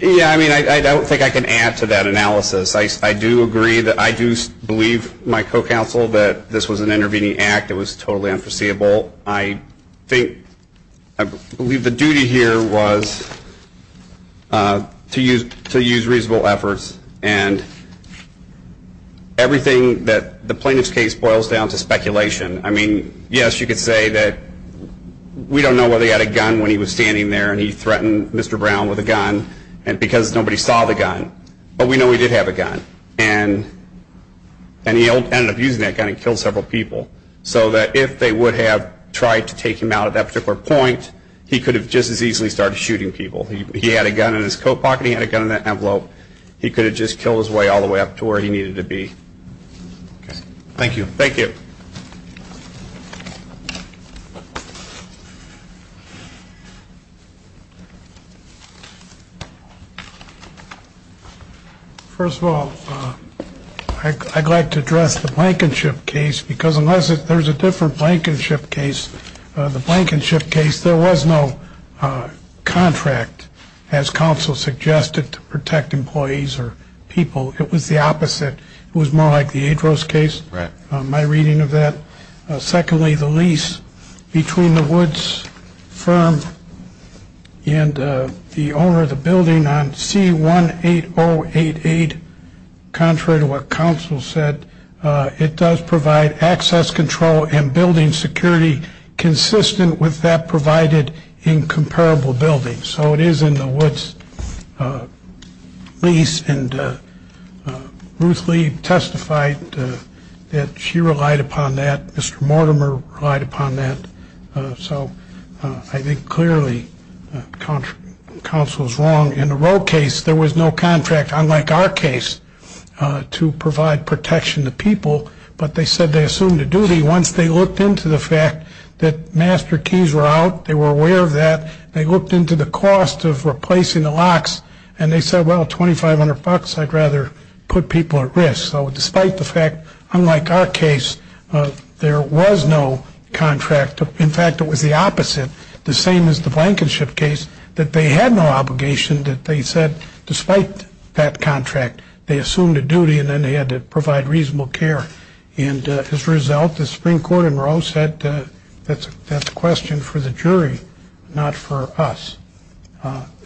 Yeah, I mean, I don't think I can add to that analysis. I do agree that I do believe my co-counsel that this was an intervening act. It was totally unforeseeable. I believe the duty here was to use reasonable efforts, and everything that the plaintiff's case boils down to is speculation. I mean, yes, you could say that we don't know whether he had a gun when he was standing there and he threatened Mr. Brown with a gun because nobody saw the gun, but we know he did have a gun, and he ended up using that gun and killed several people, so that if they would have tried to take him out at that particular point, he could have just as easily started shooting people. He had a gun in his coat pocket. He had a gun in that envelope. He could have just killed his way all the way up to where he needed to be. Thank you. Thank you. First of all, I'd like to address the Blankenship case because unless there's a different Blankenship case, the Blankenship case, there was no contract, as counsel suggested, to protect employees or people. It was the opposite. It was more like the Adros case, my reading of that. Secondly, the lease between the Woods firm and the owner of the building on C-18088, contrary to what counsel said, it does provide access control and building security consistent with that provided in comparable buildings. So it is in the Woods lease, and Ruth Lee testified that she relied upon that. Mr. Mortimer relied upon that. So I think clearly counsel is wrong. In the Rowe case, there was no contract, unlike our case, to provide protection to people, but they said they assumed a duty once they looked into the fact that master keys were out. They were aware of that. They looked into the cost of replacing the locks, and they said, well, $2,500, I'd rather put people at risk. So despite the fact, unlike our case, there was no contract. In fact, it was the opposite, the same as the Blankenship case, that they had no obligation that they said despite that contract, they assumed a duty, and then they had to provide reasonable care. And as a result, the Supreme Court in Rowe said that's a question for the jury, not for us.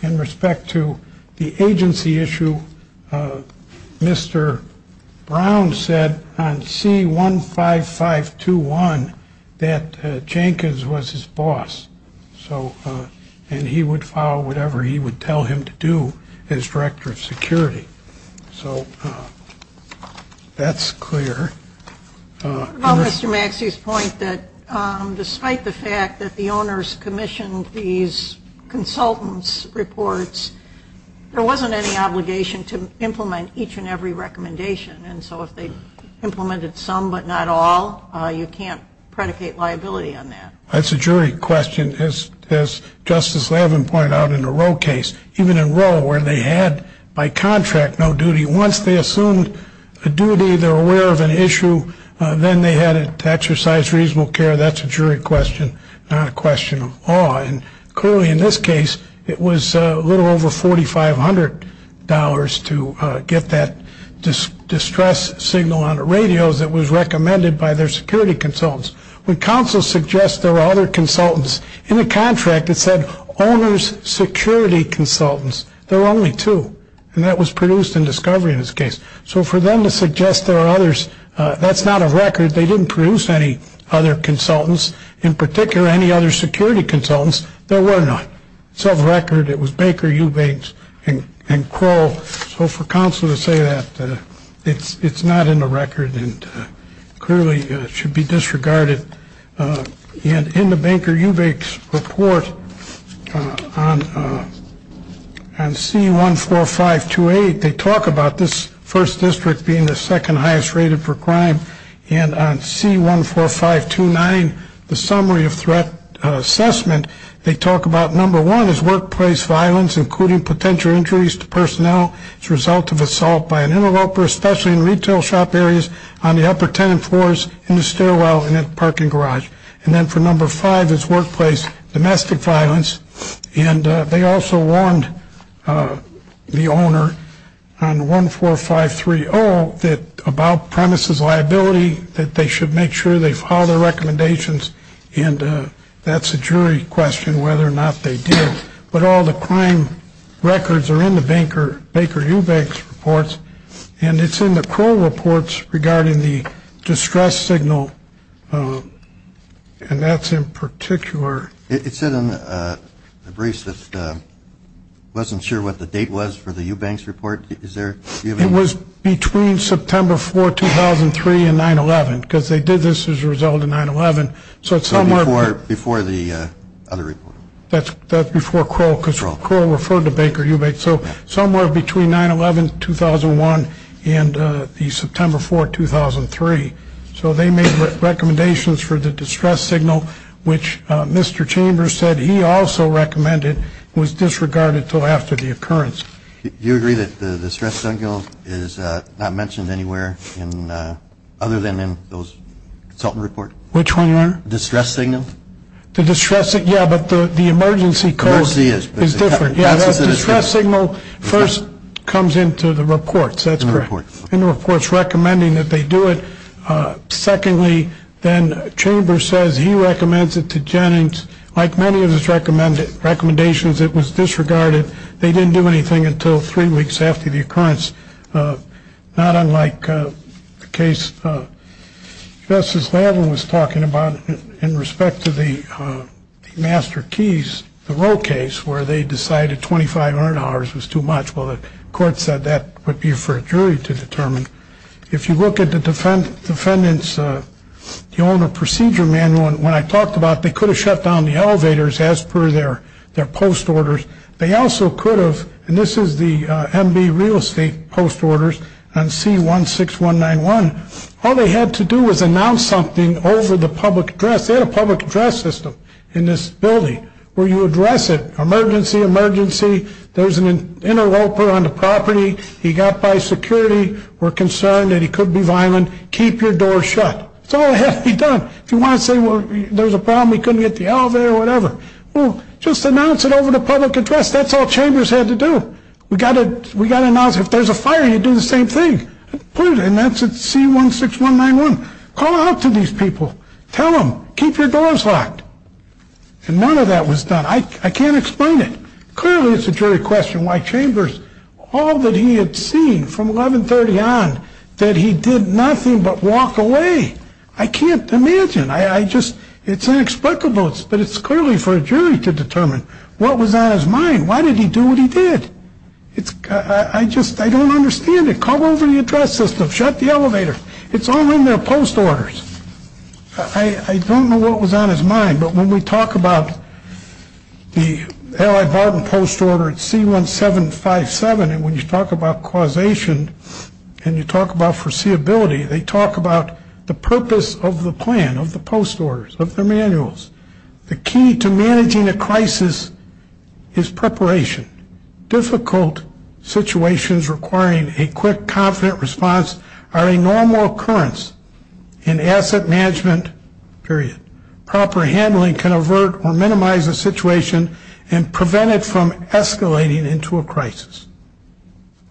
In respect to the agency issue, Mr. Brown said on C-15521 that Jenkins was his boss, and he would follow whatever he would tell him to do as director of security. So that's clear. Mr. Maxey's point that despite the fact that the owners commissioned these consultants' reports, there wasn't any obligation to implement each and every recommendation, and so if they implemented some but not all, you can't predicate liability on that. That's a jury question. As Justice Levin pointed out in the Rowe case, even in Rowe where they had by contract no duty, once they assumed a duty, they're aware of an issue, then they had to exercise reasonable care. That's a jury question, not a question of awe. And clearly in this case, it was a little over $4,500 to get that distress signal on the radio that was recommended by their security consultants. When counsel suggests there are other consultants, in the contract it said owner's security consultants. There were only two, and that was produced in discovery in this case. So for them to suggest there are others, that's not a record. They didn't produce any other consultants, in particular any other security consultants. There were not. It's on record it was Baker, Eubanks, and Crowell. So for counsel to say that, it's not in the record and clearly should be disregarded. And in the Baker-Eubanks report on C14528, they talk about this first district being the second highest rated for crime, and on C14529, the summary of threat assessment, they talk about number one is workplace violence, including potential injuries to personnel as a result of assault by an interloper, especially in retail shop areas, on the upper tenant floors, in the stairwell, and in the parking garage. And then for number five is workplace domestic violence, and they also warned the owner on 14530 about premises liability, that they should make sure they file their recommendations, and that's a jury question whether or not they did. But all the crime records are in the Baker-Eubanks reports, and it's in the Crowell reports regarding the distress signal, and that's in particular. It said on the briefs that it wasn't sure what the date was for the Eubanks report. It was between September 4, 2003, and 9-11, because they did this as a result of 9-11. So it's somewhere before the other report. That's before Crowell, because Crowell referred to Baker-Eubanks. So somewhere between 9-11, 2001, and the September 4, 2003. So they made recommendations for the distress signal, which Mr. Chambers said he also recommended, was disregarded until after the occurrence. Do you agree that the distress signal is not mentioned anywhere other than in those consultant reports? Which one, Leonard? The distress signal. Yeah, but the emergency code is different. The distress signal first comes into the reports. That's correct. In the reports recommending that they do it. Secondly, then Chambers says he recommends it to Jennings. Like many of his recommendations, it was disregarded. They didn't do anything until three weeks after the occurrence. Not unlike the case Justice Lavin was talking about in respect to the Master Keys, the Roe case, where they decided $2,500 was too much. Well, the court said that would be for a jury to determine. If you look at the defendant's owner procedure manual, when I talked about it, they could have shut down the elevators as per their post orders. They also could have, and this is the MD real estate post orders and C-16191, all they had to do was announce something over the public address. They had a public address system in this building where you address it. Emergency, emergency. There's an interloper on the property. He got by security. We're concerned that he could be violent. Keep your door shut. That's all that has to be done. If you want to say, well, there's a problem, he couldn't get to the elevator or whatever, well, just announce it over the public address. That's all Chambers had to do. We got to announce it. If there's a fire, you do the same thing. And that's at C-16191. Call out to these people. Tell them, keep your doors locked. And none of that was done. I can't explain it. Clearly, it's a jury question why Chambers, all that he had seen from 1130 on, that he did nothing but walk away. I can't imagine. It's inexplicable, but it's clearly for a jury to determine what was on his mind. Why did he do what he did? I don't understand it. Call over the address system. Shut the elevator. It's all in their post orders. I don't know what was on his mind, but when we talk about the L.I. Barton post order at C-1757, and when you talk about causation and you talk about foreseeability, they talk about the purpose of the plan, of the post orders, of the manuals. The key to managing a crisis is preparation. Difficult situations requiring a quick, confident response are a normal occurrence in asset management, period. Proper handling can avert or minimize a situation and prevent it from escalating into a crisis.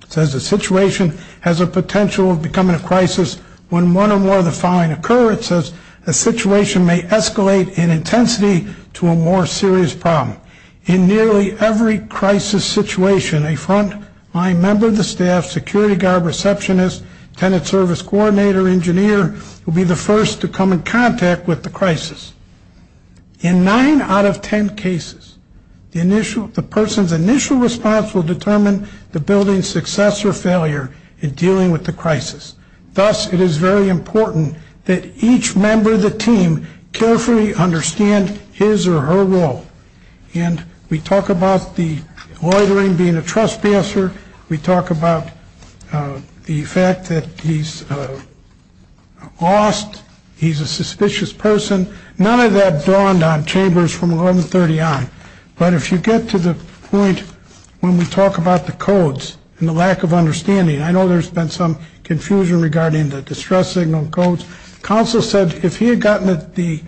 It says the situation has a potential of becoming a crisis when one or more of the following occur. It says the situation may escalate in intensity to a more serious problem. In nearly every crisis situation, a frontline member of the staff, security guard, receptionist, tenant service coordinator, engineer will be the first to come in contact with the crisis. In nine out of ten cases, the person's initial response will determine the building's success or failure in dealing with the crisis. Thus, it is very important that each member of the team carefully understand his or her role. And we talk about the loitering being a trespasser. We talk about the fact that he's lost. He's a suspicious person. None of that dawned on Chambers from 1130 on. But if you get to the point when we talk about the codes and the lack of understanding, I know there's been some confusion regarding the distress signal codes. Counsel said if he had gotten the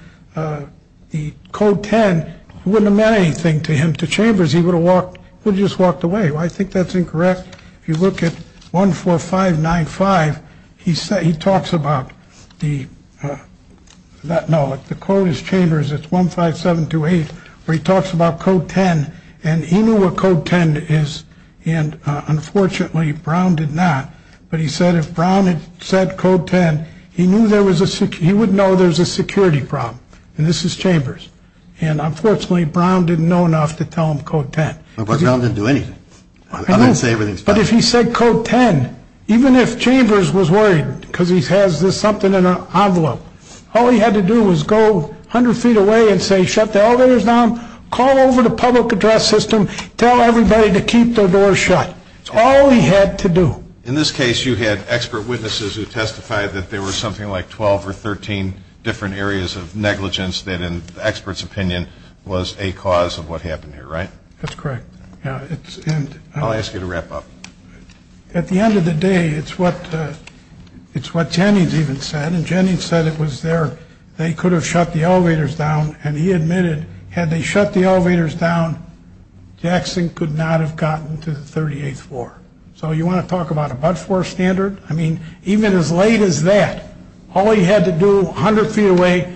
code 10, it wouldn't have meant anything to him. To Chambers, he would have just walked away. I think that's incorrect. If you look at 14595, he talks about the code is Chambers. It's 15728 where he talks about code 10. And he knew what code 10 is. And unfortunately, Brown did not. But he said if Brown had said code 10, he would know there's a security problem. And this is Chambers. And unfortunately, Brown didn't know enough to tell him code 10. Brown didn't do anything. I'm not saying anything. But if he said code 10, even if Chambers was worried because he has something in an envelope, all he had to do was go 100 feet away and say shut the elevators down, call over the public address system, tell everybody to keep their doors shut. That's all he had to do. In this case, you had expert witnesses who testified that there were something like 12 or 13 different areas of negligence that in the expert's opinion was a cause of what happened here, right? That's correct. I'll ask you to wrap up. At the end of the day, it's what Jennings even said. And Jennings said it was there. They could have shut the elevators down. And he admitted had they shut the elevators down, Jackson could not have gotten to the 38th floor. So you want to talk about a but-for standard? I mean, even as late as that, all he had to do, 100 feet away,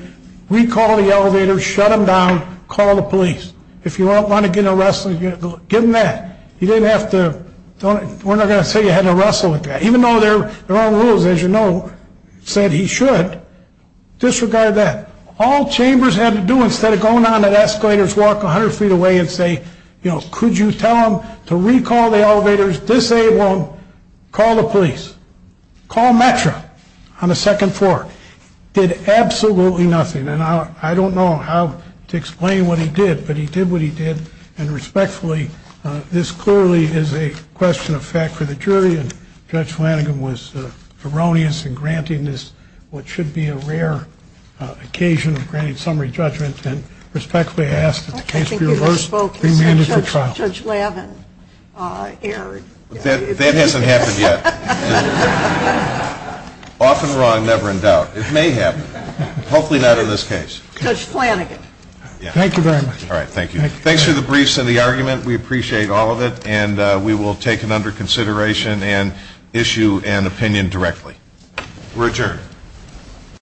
recall the elevators, shut them down, call the police. If you want to get arrested, give them that. You didn't have to, we're not going to say you had to wrestle with that. Even though there are rules, as you know, said he should. Disregard that. All chambers had to do instead of going on escalators, walk 100 feet away and say, you know, could you tell them to recall the elevators, disable them, call the police. Call Metro on the second floor. Did absolutely nothing. And I don't know how to explain what he did, but he did what he did. And respectfully, this clearly is a question of fact for the jury. And Judge Flanagan was erroneous in granting this what should be a rare occasion, granting summary judgment. And respectfully, I ask that the case be reversed. Judge Lavin erred. That hasn't happened yet. Often wrong, never in doubt. It may happen. Hopefully not in this case. Judge Flanagan. Thank you very much. All right, thank you. Thanks for the briefs and the argument. We appreciate all of it. And we will take it under consideration and issue an opinion directly. We're adjourned.